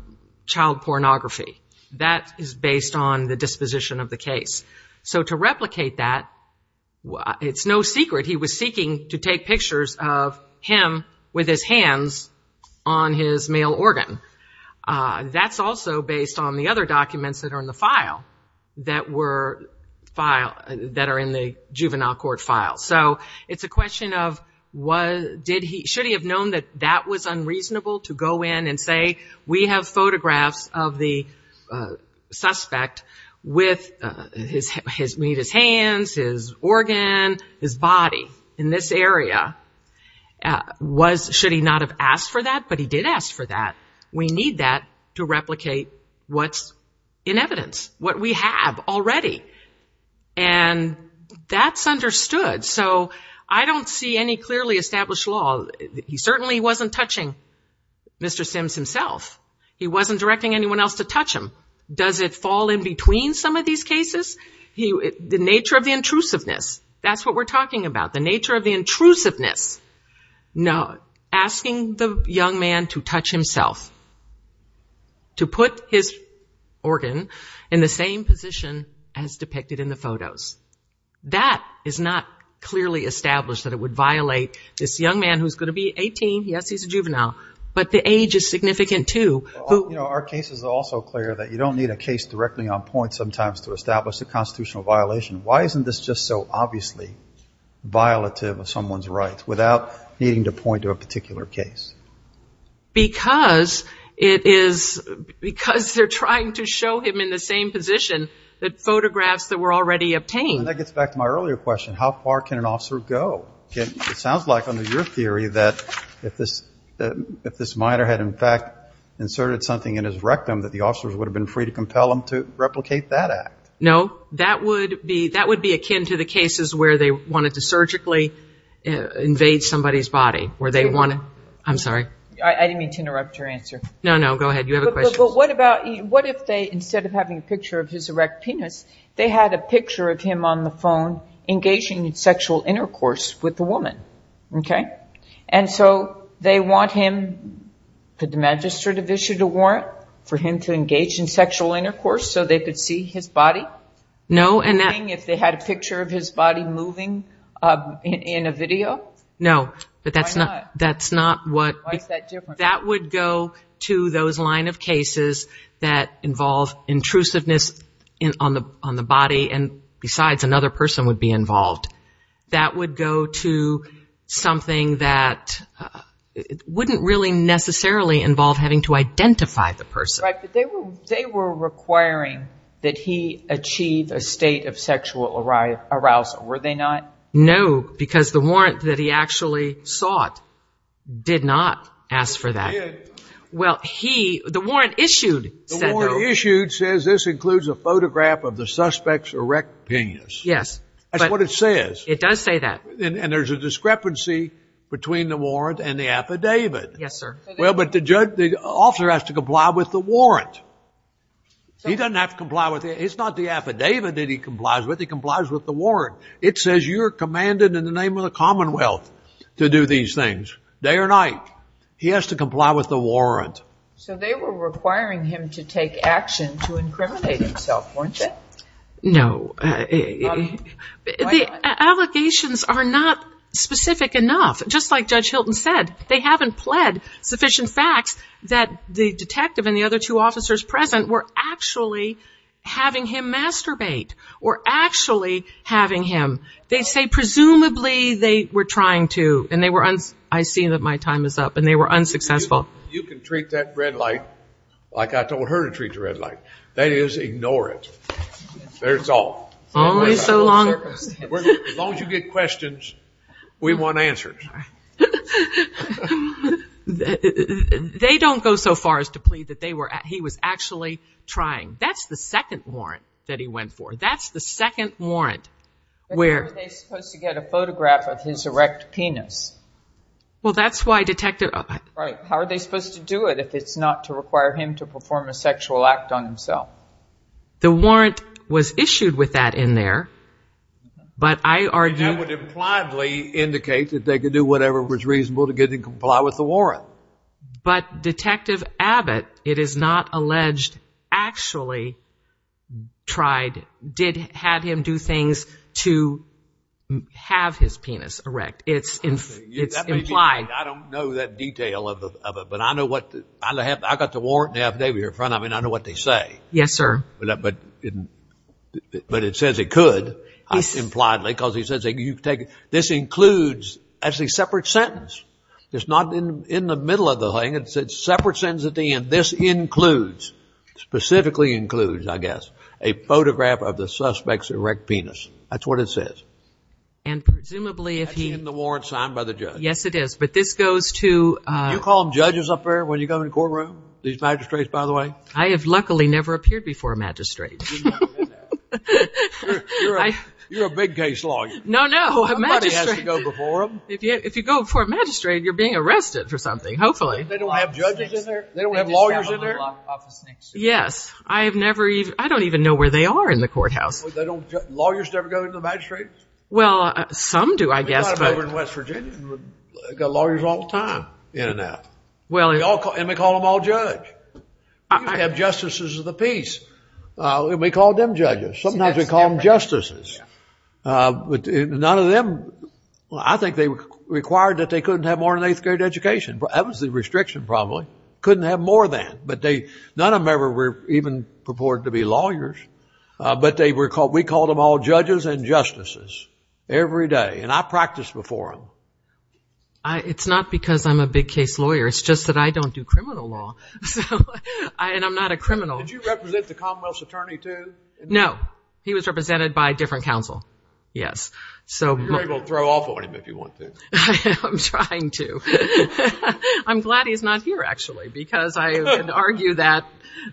child pornography. That is based on the disposition of the case. So to replicate that, it's no secret he was seeking to take pictures of him with his hands on his male organ. That's also based on the other documents that are in the file, that are in the juvenile court file. So it's a question of should he have known that that was unreasonable to go in and say, we have photographs of the suspect with his hands, his organ, his body in this area. Should he not have asked for that? But he did ask for that. We need that to replicate what's in evidence, what we have already. And that's understood. So I don't see any clearly established law. He certainly wasn't touching Mr. Sims himself. He wasn't directing anyone else to touch him. Does it fall in between some of these cases? The nature of the intrusiveness, that's what we're talking about, the nature of the intrusiveness. No, asking the young man to touch himself, to put his organ in the same position as depicted in the photos. That is not clearly established that it would violate this young man who's going to be 18. Yes, he's a juvenile. But the age is significant, too. Our case is also clear that you don't need a case directly on point sometimes to establish a constitutional violation. Why isn't this just so obviously violative of someone's rights without needing to point to a particular case? Because they're trying to show him in the same position the photographs that were already obtained. That gets back to my earlier question. How far can an officer go? It sounds like under your theory that if this minor had in fact inserted something in his rectum, that the officers would have been free to compel him to replicate that act. No, that would be akin to the cases where they wanted to surgically invade somebody's body. I'm sorry. I didn't mean to interrupt your answer. No, no, go ahead. You have a question. What if they, instead of having a picture of his erect penis, they had a picture of him on the phone engaging in sexual intercourse with a woman? Okay. And so they want him, did the magistrate issue a warrant for him to engage in sexual intercourse so they could see his body? No. If they had a picture of his body moving in a video? No. Why not? That's not what. Why is that different? That would go to those line of cases that involve intrusiveness on the body, and besides, another person would be involved. That would go to something that wouldn't really necessarily involve having to identify the person. Right, but they were requiring that he achieve a state of sexual arousal, were they not? No, because the warrant that he actually sought did not ask for that. Well, he, the warrant issued. The warrant issued says this includes a photograph of the suspect's erect penis. Yes. That's what it says. It does say that. And there's a discrepancy between the warrant and the affidavit. Yes, sir. Well, but the judge, the author has to comply with the warrant. He doesn't have to comply with it. It's not the affidavit that he complies with, he complies with the warrant. It says you're commanded in the name of the commonwealth to do these things, day or night. He has to comply with the warrant. So they were requiring him to take action to incriminate himself, weren't they? No. The allegations are not specific enough. Just like Judge Hilton said, they haven't pled sufficient facts that the detective and the other two officers present were actually having him masturbate, were actually having him. They say presumably they were trying to, and they were, I see that my time is up, and they were unsuccessful. You can treat that red light like I told her to treat the red light. That is, ignore it. There's all. Only so long. As long as you get questions, we want answers. They don't go so far as to plead that he was actually trying. That's the second warrant that he went for. That's the second warrant where. They're supposed to get a photograph of his erect penis. Well, that's why detective. How are they supposed to do it if it's not to require him to perform a sexual act on himself? The warrant was issued with that in there. But I would impliedly indicate that they could do whatever was reasonable to get him to comply with the warrant. But Detective Abbott, it is not alleged, actually tried, did have him do things to have his penis erect. I don't know that detail of it, but I know what, I've got the warrant in front of me and I know what they say. Yes, sir. But it says it could, impliedly, because he says this includes as a separate sentence. It's not in the middle of the thing. It's a separate sentence at the end. This includes, specifically includes, I guess, a photograph of the suspect's erect penis. That's what it says. And presumably if he... Has he had the warrant signed by the judge? Yes, it is. But this goes to... Do you call them judges up there when you go in the courtroom? These magistrates, by the way? I have luckily never appeared before a magistrate. You're a big case lawyer. No, no. Somebody has to go before them. If you go before a magistrate, you're being arrested for something, hopefully. They don't have judges in there? They don't have lawyers in there? Yes. I have never even, I don't even know where they are in the courthouse. They don't... Lawyers never go to the magistrates? Well, some do, I guess. There's a lot of them over in West Virginia. They've got lawyers all the time. And they call them all judge. They have justices of the peace. And we call them judges. Sometimes we call them justices. But none of them... I think they required that they couldn't have more than an eighth grade education. That was the restriction, probably. Couldn't have more than. But none of them ever were even purported to be lawyers. But we called them all judges and justices every day. And I practiced before them. It's not because I'm a big case lawyer. It's just that I don't do criminal law. And I'm not a criminal. Did you represent the Commonwealth's attorney, too? No. He was represented by a different counsel. Yes. You're able to throw off on him if you want to. I'm trying to. I'm glad he's not here, actually. Because I would argue that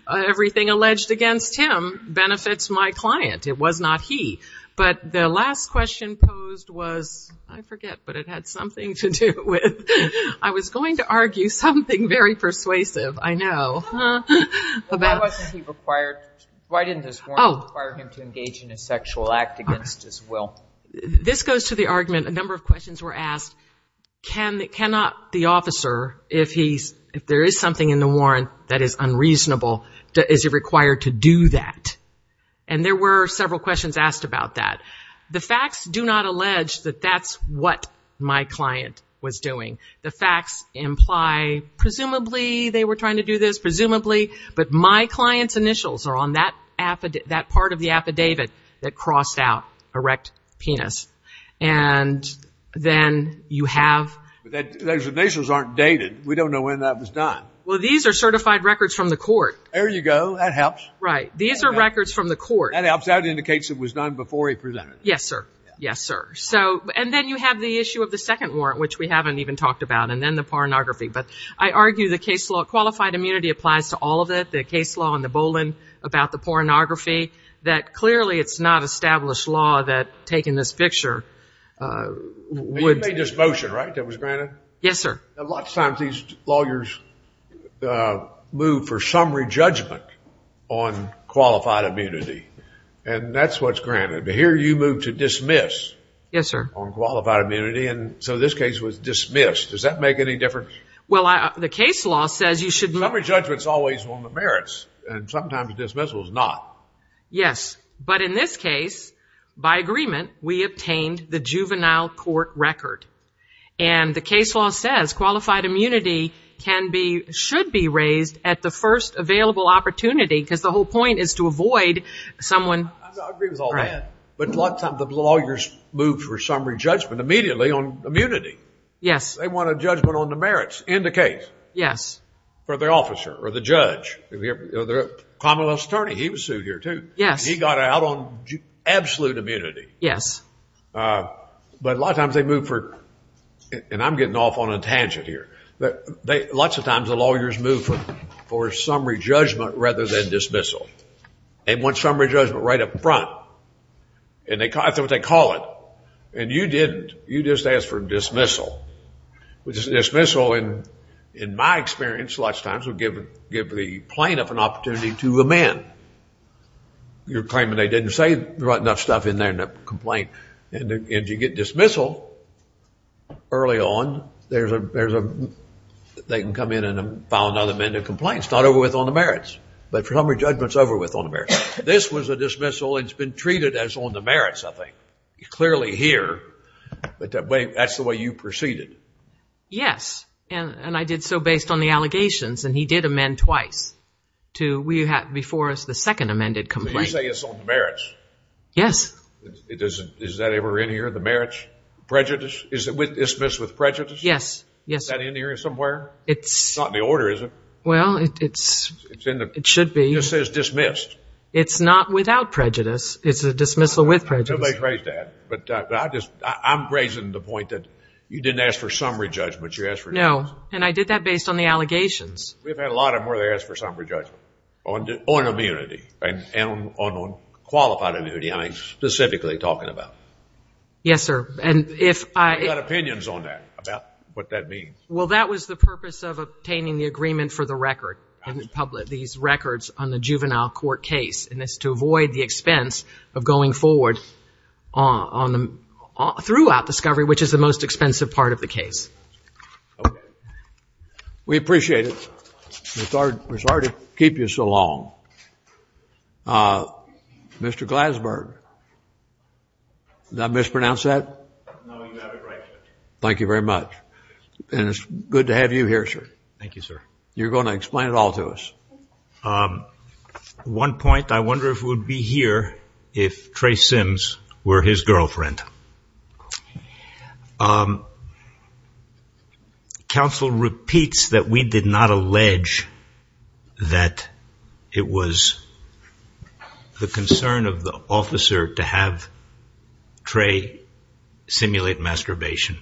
everything alleged against him benefits my client. It was not he. But the last question posed was... I forget. But it had something to do with... I was going to argue something very persuasive. I know. This goes to the argument... A number of questions were asked. Can the officer, if there is something in the warrant that is unreasonable, is it required to do that? And there were several questions asked about that. The facts do not allege that that's what my client was doing. The facts imply... Presumably, they were trying to do this. Presumably. But my client's initials are on that part of the affidavit that crossed out erect penis. And then you have... Those initials aren't dated. We don't know when that was done. Well, these are certified records from the court. There you go. That helps. Right. These are records from the court. That helps. That indicates it was done before he presented. Yes, sir. Yes, sir. And then you have the issue of the second warrant, which we haven't even talked about. And then the pornography. But I argue the case law... Qualified immunity applies to all of it. The case law and the bowling about the pornography. That clearly it's not established law that's taking this picture. And you made this motion, right? That was granted? Yes, sir. Lots of times these lawyers move for summary judgment on qualified immunity. And that's what's granted. But here you moved to dismiss on qualified immunity. And so this case was dismissed. Does that make any difference? Well, the case law says you should... Summary judgment's always one of the merits. And sometimes dismissal's not. Yes. But in this case, by agreement, we obtained the juvenile court record. And the case law says qualified immunity can be... Should be raised at the first available opportunity. Because the whole point is to avoid someone... I agree with all that. But a lot of times the lawyers move for summary judgment immediately on immunity. Yes. They want a judgment on the merits in the case. Yes. For their officer or the judge. Common law's attorney. He was sued here, too. Yes. He got out on absolute immunity. Yes. But a lot of times they move for... And I'm getting off on a tangent here. But lots of times the lawyers move for summary judgment rather than dismissal. They want summary judgment right up front. And that's what they call it. And you didn't. You just asked for dismissal. Which is dismissal in my experience, lots of times, will give the plaintiff an opportunity to amend. You're claiming they didn't say right enough stuff in there to complain. And you get dismissal early on. There's a... They can come in and file another amendment to complain. It's not over with on the merits. But summary judgment's over with on the merits. This was a dismissal. It's been treated as on the merits, I think. He's clearly here. But that's the way you proceeded. Yes. And I did so based on the allegations. And he did amend twice before the second amended complaint. Did you say it's on the merits? Yes. Is that ever in here, the merits? Prejudice? Is it dismissed with prejudice? Yes. Is that in here somewhere? It's... It's not in the order, is it? Well, it's... It should be. It just says dismissed. It's not without prejudice. It's a dismissal with prejudice. Somebody phrased that. But I just... I'm raising the point that you didn't ask for summary judgment. You asked for... No. And I did that based on the allegations. We've had a lot of them where they ask for summary judgment. On immunity. And on qualified immunity, I'm specifically talking about. Yes, sir. And if I... I've got opinions on that, about what that means. Well, that was the purpose of obtaining the agreement for the record. These records on the juvenile court case. And it's to avoid the expense of going forward on the... Throughout discovery, which is the most expensive part of the case. Okay. We appreciate it. It's hard to keep you so long. Mr. Glasberg. Did I mispronounce that? No, you have it right, sir. Thank you very much. And it's good to have you here, sir. Thank you, sir. You're going to explain it all to us. One point. I wonder if it would be here if Trey Sims were his girlfriend. Counsel repeats that we did not allege that it was the concern of the officer to have Trey simulate masturbation.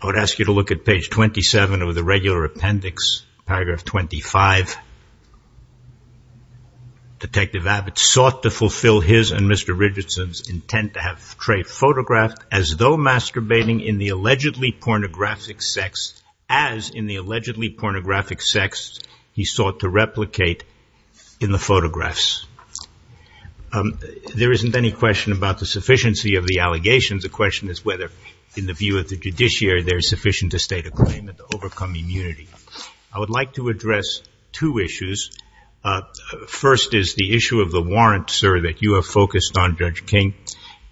I would ask you to look at page 27 of the regular appendix, paragraph 25. Detective Abbott sought to fulfill his and Mr. Richardson's intent to have Trey photographed as though masturbating in the allegedly pornographic sex, as in the allegedly pornographic sex he sought to replicate in the photographs. There isn't any question about the sufficiency of the allegations. The question is whether, in the view of the judiciary, they're sufficient to state a claim and to overcome immunity. I would like to address two issues. First is the issue of the warrant, sir, that you have focused on, Judge King.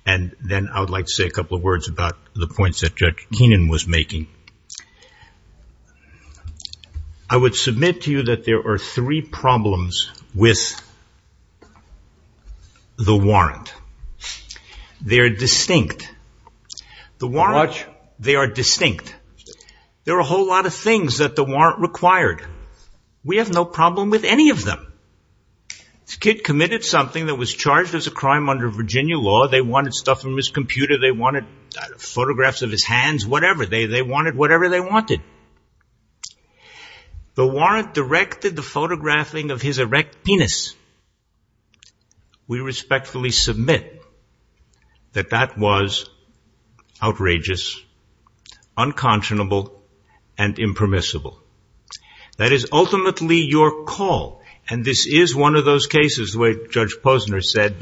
And then I would like to say a couple of words about the points that Judge Keenan was making. I would submit to you that there are three problems with the warrant. First, they're distinct. They are distinct. There are a whole lot of things that the warrant required. We have no problem with any of them. This kid committed something that was charged as a crime under Virginia law. They wanted stuff from his computer. They wanted photographs of his hands, whatever. They wanted whatever they wanted. The warrant directed the photographing of his erect penis. We respectfully submit that that was outrageous, unconscionable, and impermissible. That is ultimately your call. And this is one of those cases where Judge Posner said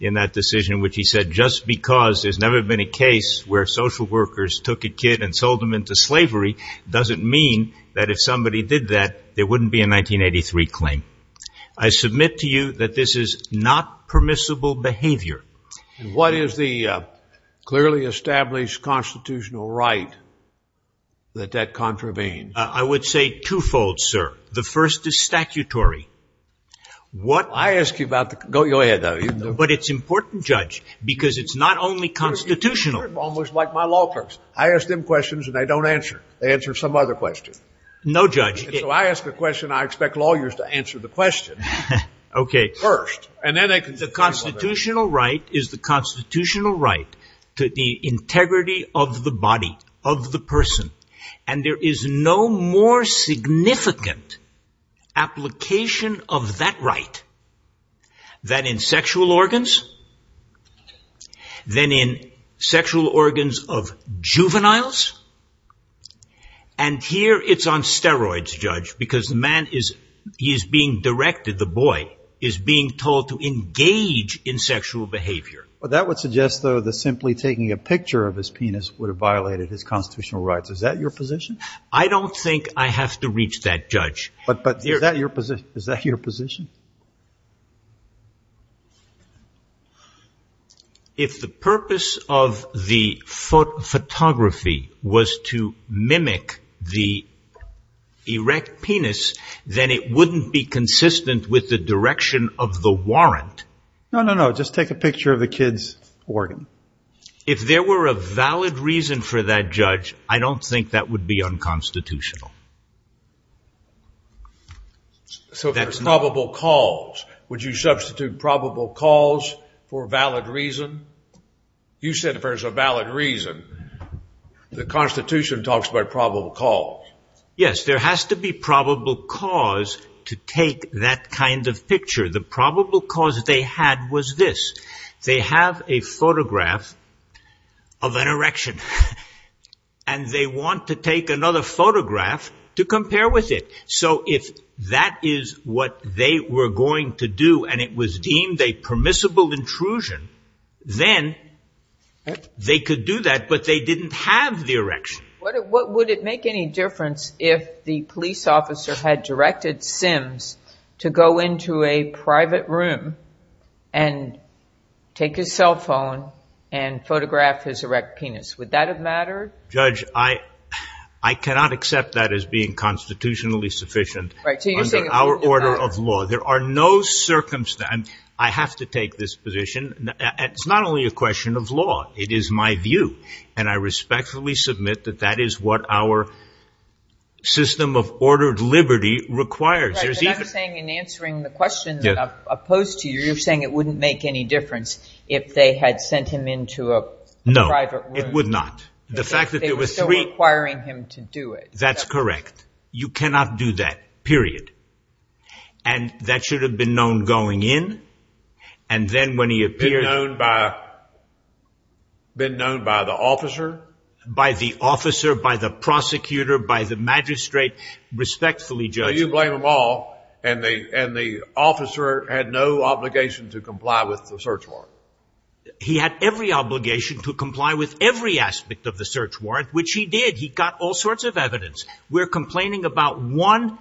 in that decision, which he said, just because there's never been a case where social workers took a kid and sold them into slavery, doesn't mean that if somebody did that, there wouldn't be a 1983 claim. I submit to you that this is not permissible behavior. What is the clearly established constitutional right that that contravenes? I would say twofold, sir. The first is statutory. What I ask you about... Go ahead. But it's important, Judge, because it's not only constitutional. Almost like my law firms. I ask them questions and they don't answer. They answer some other question. No, Judge. So I ask the question, I expect lawyers to answer the question. First. The constitutional right is the constitutional right to the integrity of the body, of the person. And there is no more significant application of that right than in sexual organs, than in sexual organs of juveniles. And here it's on steroids, Judge, because the man is being directed, the boy, is being told to engage in sexual behavior. That would suggest that simply taking a picture of his penis would have violated his constitutional rights. Is that your position? I don't think I have to reach that, Judge. Is that your position? If the purpose of the photography was to mimic the erect penis, then it wouldn't be consistent with the direction of the warrant. No, no, no. Just take a picture of the kid's organ. If there were a valid reason for that, Judge, I don't think that would be unconstitutional. So there's probable cause. Would you substitute probable cause for valid reason? You said there's a valid reason. The Constitution talks about probable cause. Yes, there has to be probable cause to take that kind of picture. The probable cause they had was this. They have a photograph of an erection. And they want to take another photograph to compare with it. So if that is what they were going to do, and it was deemed a permissible intrusion, then they could do that, but they didn't have the erection. Would it make any difference if the police officer had directed Sims to go into a private room and take his cell phone and photograph his erect penis? Would that have mattered? Judge, I cannot accept that as being constitutionally sufficient under our order of law. There are no circumstances. I have to take this position. It's not only a question of law. It is my view. And I respectfully submit that that is what our system of ordered liberty requires. Judge, I'm saying in answering the question that I've posed to you, you're saying it wouldn't make any difference if they had sent him into a private room. No, it would not. They were still requiring him to do it. That's correct. You cannot do that. Period. And that should have been known going in, and then when he appeared... Been known by the officer? By the officer, by the prosecutor, by the magistrate. Respectfully, Judge. By the law, and the officer had no obligation to comply with the search warrant. He had every obligation to comply with every aspect of the search warrant, which he did. He got all sorts of evidence. We're complaining about one,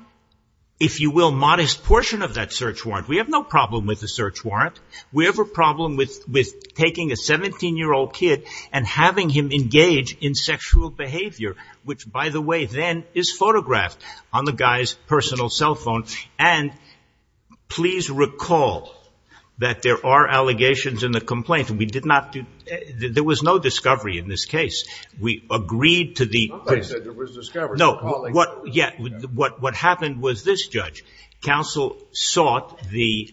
if you will, modest portion of that search warrant. We have no problem with the search warrant. We have a problem with taking a 17-year-old kid and having him engage in sexual behavior, which, by the way, then is photographed on the guy's personal cell phone. And please recall that there are allegations in the complaint. There was no discovery in this case. Nobody said there was discovery. What happened was this, Judge. Counsel sought the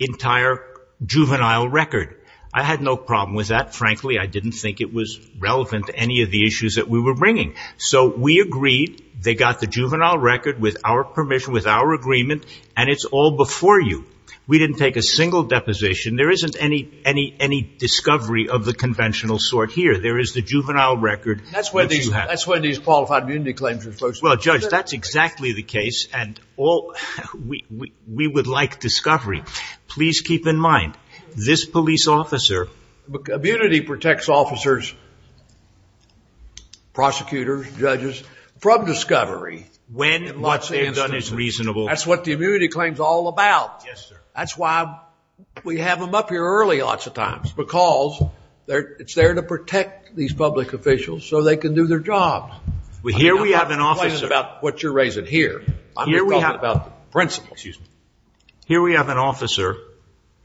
entire juvenile record. I had no problem with that, frankly. I didn't think it was relevant to any of the issues that we were bringing. So we agreed. They got the juvenile record with our permission, with our agreement. And it's all before you. We didn't take a single deposition. There isn't any discovery of the conventional sort here. There is the juvenile record that you have. That's one of these qualified immunity claims. Well, Judge, that's exactly the case. We would like discovery. Please keep in mind, this police officer... protects officers, prosecutors, judges, from discovery. When and what they have done is reasonable. That's what the immunity claim is all about. That's why we have them up here early lots of times. Because it's there to protect these public officials so they can do their jobs. Here we have an officer... I'm not talking about what you're raising here. Here we have an officer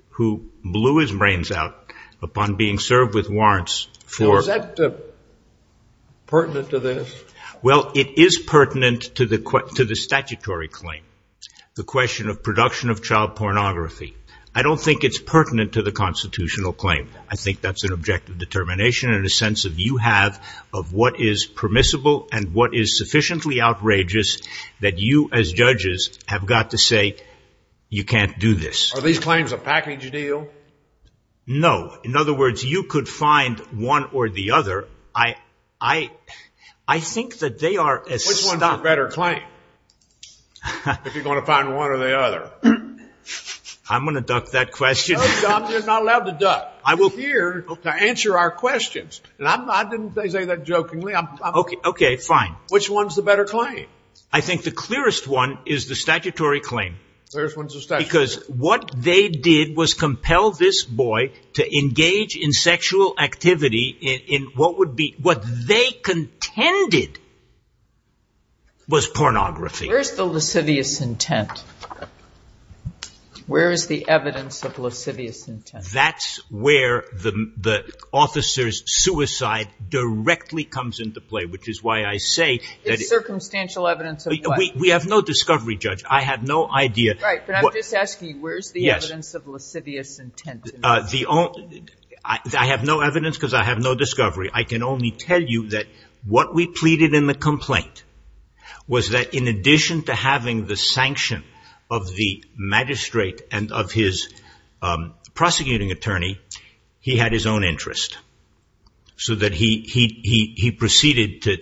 who blew his brains out upon being served with warrants for... So is that pertinent to this? Well, it is pertinent to the statutory claim. The question of production of child pornography. I don't think it's pertinent to the constitutional claim. I think that's an objective determination and a sense that you have of what is permissible and what is sufficiently outrageous that you as judges have got to say, you can't do this. Are these claims a package deal? In other words, you could find one or the other. I think that they are... Which one is the better claim? If you're going to find one or the other. I'm going to duck that question. No, you're not allowed to duck. I'm here to answer our questions. I didn't say that jokingly. Okay, fine. Which one is the better claim? I think the clearest one is the statutory claim. The clearest one is the statutory claim. Because what they did was compel this boy to engage in sexual activity in what they contended was pornography. Where is the lascivious intent? Where is the evidence of lascivious intent? That's where the officer's suicide directly comes into play, which is why I say... We have no discovery, Judge. I have no idea. You're asking where is the evidence of lascivious intent? I have no evidence because I have no discovery. I can only tell you that what we pleaded in the complaint was that in addition to having the sanction of the magistrate and of his prosecuting attorney, he had his own interest. So that he proceeded to...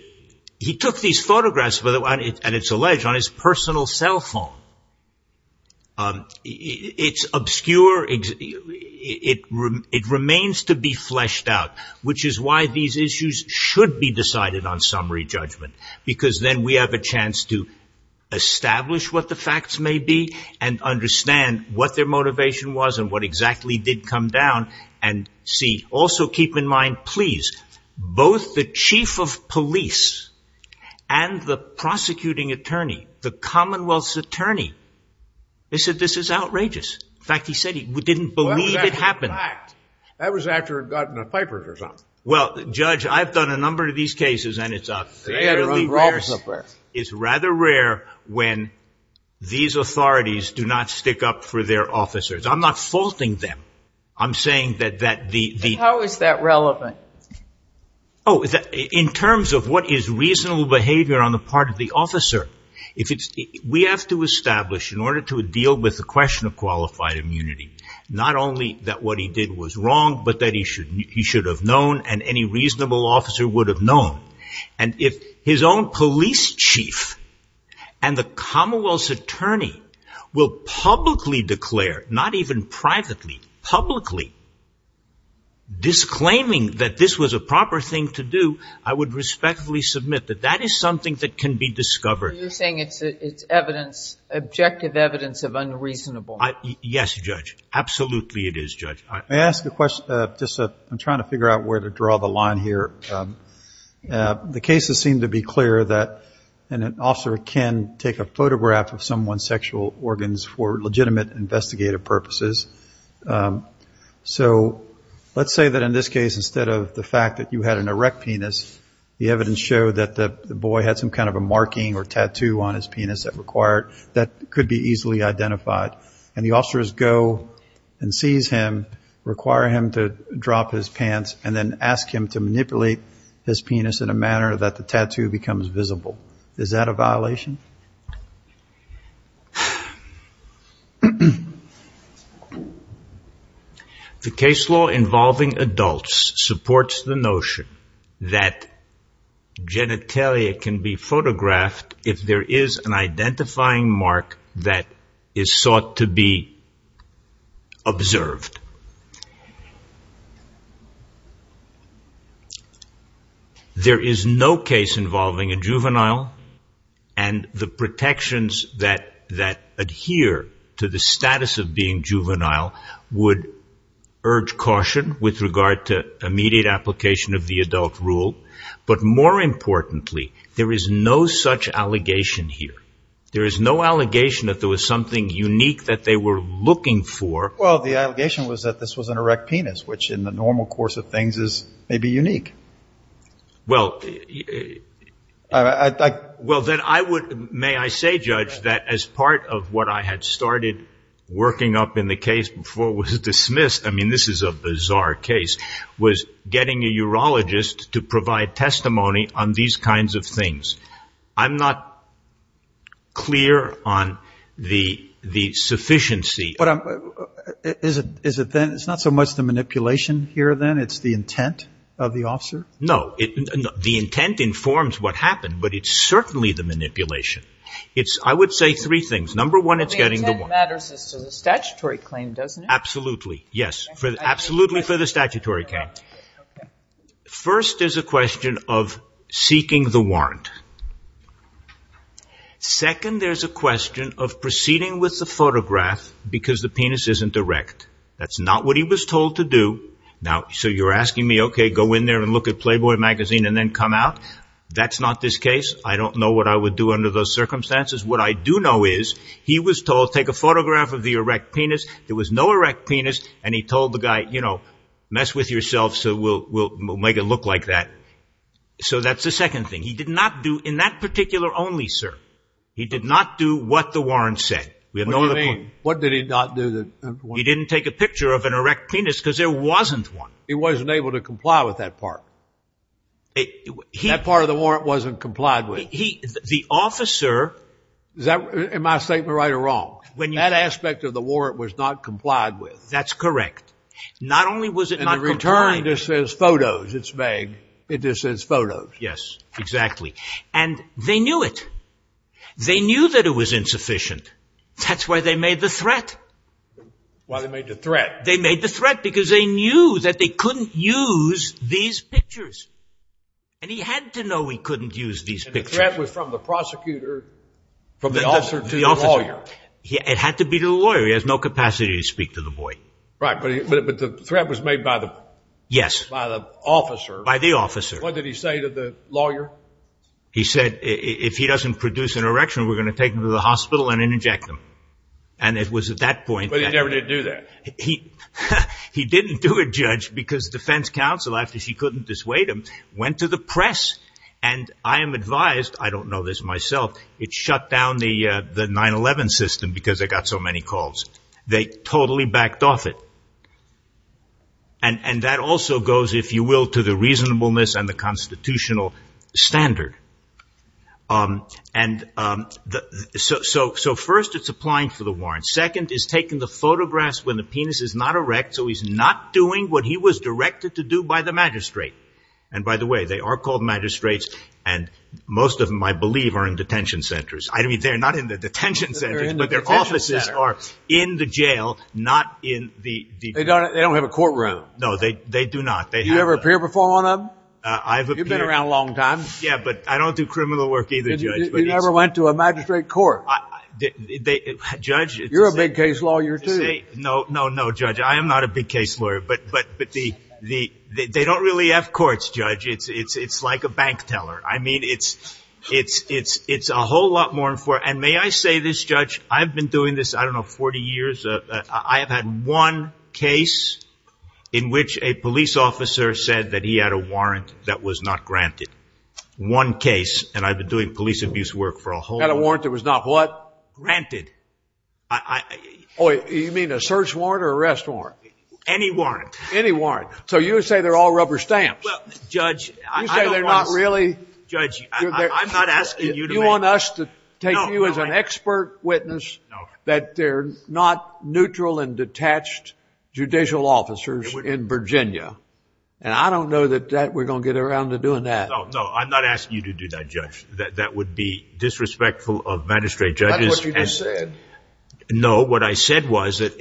He took these photographs, and it's alleged, on his personal cell phone. It's obscure. It remains to be fleshed out, which is why these issues should be decided on summary judgment. Because then we have a chance to establish what the facts may be and understand what their motivation was and what exactly did come down. Also keep in mind, please, both the chief of police and the prosecuting attorney, the commonwealth's attorney, they said this is outrageous. In fact, he said he didn't believe it happened. That was after he'd gotten a Piper's or something. Well, Judge, I've done a number of these cases, and it's a... They had an unlawful affair. It's rather rare when these authorities do not stick up for their officers. I'm not faulting them. I'm saying that the... How is that relevant? In terms of what is reasonable behavior on the part of the officer, we have to establish, in order to deal with the question of qualified immunity, not only that what he did was wrong, but that he should have known and any reasonable officer would have known. And if his own police chief and the commonwealth's attorney will publicly declare, not even privately, publicly, disclaiming that this was a proper thing to do, I would respectfully submit that that is something that can be discovered. It's evidence, objective evidence of unreasonableness. Yes, Judge. Absolutely it is, Judge. May I ask a question? I'm trying to figure out where to draw the line here. The cases seem to be clear that an officer can take a photograph of someone's sexual organs for legitimate investigative purposes. So, let's say that in this case, instead of the fact that you had an erect penis, the evidence showed that the boy had some kind of a marking or tattoo on his penis that could be easily identified. And the officers go and seize him, require him to drop his pants, and then ask him to manipulate his penis in a manner that the tattoo becomes visible. Is that a violation? The case law involving adults supports the notion that genitalia can be photographed if there is an identifying mark that is sought to be observed. There is no case involving a juvenile, and the protections that adhere to the status of being juvenile would urge caution with regard to immediate application of the adult rule. But more importantly, there is no such allegation here. There is no allegation that there was something unique that they were looking for. Well, the allegation was that this was an erect penis, which in the normal course of things is maybe unique. Well, may I say, Judge, that as part of what I had started working up in the case before it was dismissed, I mean, this is a bizarre case, was getting a urologist to provide testimony on these kinds of things. I'm not clear on the sufficiency. Is it then, it's not so much the manipulation here then, it's the intent of the officer? No, the intent informs what happened, but it's certainly the manipulation. I would say three things. Number one, it's getting the warrant. The statutory claim, doesn't it? Absolutely, yes. Absolutely for the statutory claim. First, there's a question of seeking the warrant. Second, there's a question of proceeding with the photograph because the penis isn't erect. That's not what he was told to do. Now, so you're asking me, okay, go in there and look at Playboy magazine and then come out. That's not this case. I don't know what I would do under those circumstances. He was told to take a photograph of the erect penis. There was no erect penis and he told the guy, you know, mess with yourself so we'll make it look like that. So that's the second thing. He did not do, in that particular only, sir, he did not do what the warrant said. What do you mean? What did he not do? He didn't take a picture of an erect penis because there wasn't one. He wasn't able to comply with that part. That part of the warrant wasn't complied with. The officer, am I right or wrong, that aspect of the warrant was not complied with. That's correct. Not only was it not complied, In the return it says photos, it's vague. It just says photos. Yes, exactly. And they knew it. They knew that it was insufficient. That's why they made the threat. Why they made the threat? They made the threat because they knew that they couldn't use these pictures. And he had to know he couldn't use these pictures. The threat was from the prosecutor It had to be the lawyer. He has no capacity to speak to the boy. Right. But the threat was made by the officer. By the officer. What did he say to the lawyer? He said if he doesn't produce an erection we're going to take him to the hospital and inject him. But he never did do that. He didn't do it, Judge, because defense counsel, after he couldn't dissuade him, went to the press and I am advised, I don't know this myself, to the detention system because they got so many calls. They totally backed off it. And that also goes, if you will, to the reasonableness and the constitutional standard. So first it's applying for the warrant. Second is taking the photographs when the penis is not erect so he's not doing what he was directed And by the way, they are called magistrates and most of them I believe are in the detention center. But their offices are in the jail, not in the... They don't have a courtroom. No, they do not. You ever appear before one of them? You've been around a long time. Yeah, but I don't do criminal work either, Judge. And you never went to a magistrate court? Judge... You're a big case lawyer too. No, no, no, Judge, I am not a big case lawyer, but they don't really have courts, Judge. It's like a bank teller. I've been doing this, I don't know, 40 years. I've had one case in which a police officer said that he had a warrant that was not granted. One case, and I've been doing police abuse work for a whole... Had a warrant that was not what? Granted. Oh, you mean a search warrant or arrest warrant? Any warrant. Any warrant. So you would say they're all rubber stamps? Well, Judge, I don't want... You say they're not really... Judge, I'm not asking you to make... You want us to take you as an expert witness that they're not neutral and detached judicial officers in Virginia. And I don't know that we're going to get around to doing that. No, no, I'm not asking you to do that, Judge. That would be disrespectful of magistrate judges. That's what you just said. No, what I said was that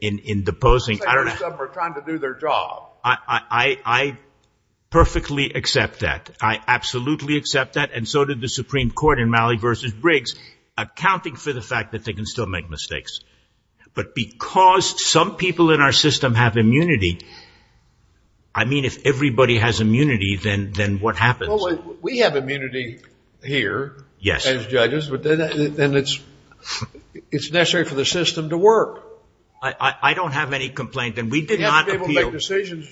in deposing... Most of them are trying to do their job. I perfectly accept that. I absolutely accept that. And so did the Supreme Court in Malley v. Briggs accounting for the fact that they can still make mistakes. But because some people in our system have immunity, I mean, if everybody has immunity, then what happens? Well, we have immunity here as judges, but then it's necessary for the system to work. I don't have any complaint, and we did not appeal... You have to be able to make decisions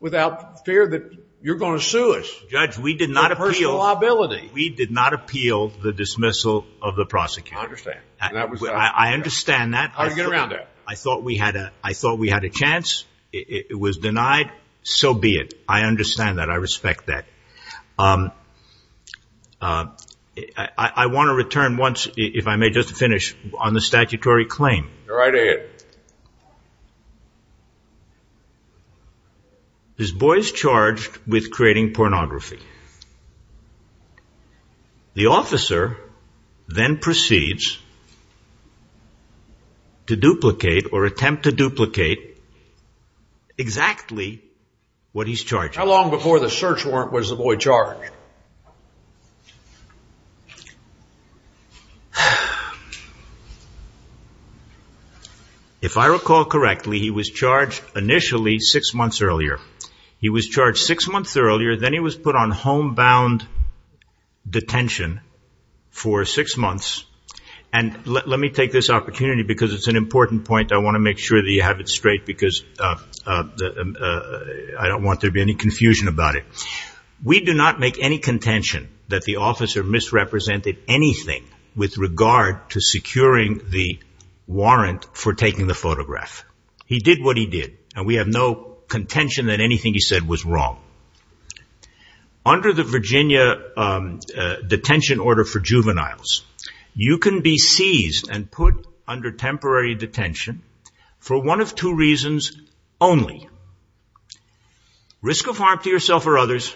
without fear that you're going to sue us. Judge, we did not appeal... A personal liability. We did not appeal the dismissal of the prosecutor. I understand that. I thought we had a chance. It was denied. So be it. I understand that. I respect that. I want to return once, if I may just finish, on the statutory claim. Go right ahead. This boy is charged with creating pornography. The officer then proceeds to duplicate or attempt to duplicate exactly what he's charged. How long before the search warrant was the boy charged? If I recall correctly, he was charged initially six months earlier. He was charged six months earlier, then he was put on homebound detention for six months. Let me take this opportunity because it's an important point. I want to make sure that you have it straight because I don't want there to be any confusion about it. We do not make any contention that the officer misrepresented anything with regard to securing the warrant for taking the photograph. He did what he did. We have no contention that anything he said was wrong. Under the Virginia detention order for juveniles, you can be seized and put under temporary detention for one of two reasons only. Risk of harm to yourself or others.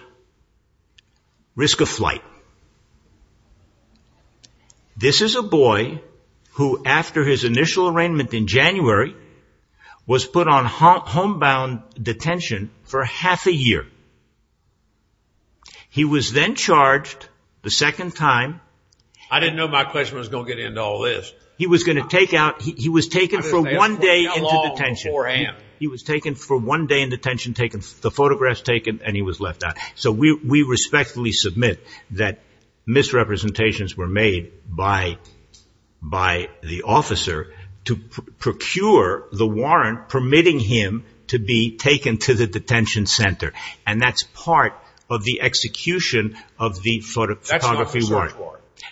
Risk of flight. This is a boy who after his initial arraignment in January was put on homebound detention for half a year. He was then charged the second time. I didn't know my question was going to get into all this. He was taken for one day into detention. He was taken for one day in detention, the photographs taken, and he was left out. The decisions were made by the officer to procure the warrant permitting him to be taken to the detention center. That is part of the execution of the photography warrant.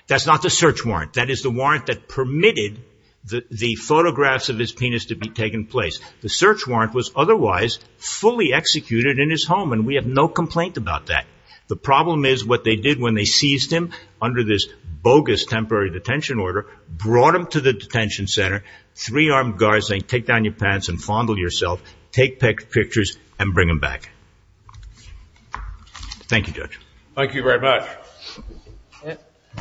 That is not the search warrant. That is the warrant that permitted the photographs of his penis to be taken place. The search warrant was otherwise fully executed in his home. We have no complaint about that. The problem is what they did was take this bogus temporary detention order, brought him to the detention center, three armed guards saying take down your pants and fondle yourself, take pictures, and bring him back. Thank you, Judge. Thank you very much.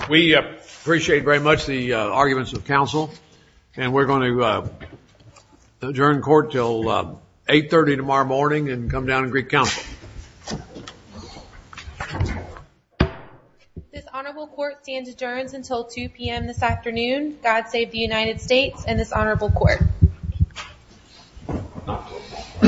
We appreciate very much the arguments of counsel. We're going to adjourn court until 8.30 tomorrow morning and come down and greet counsel. Court is adjourned until 2 p.m. this afternoon. God save the United States and this honorable court.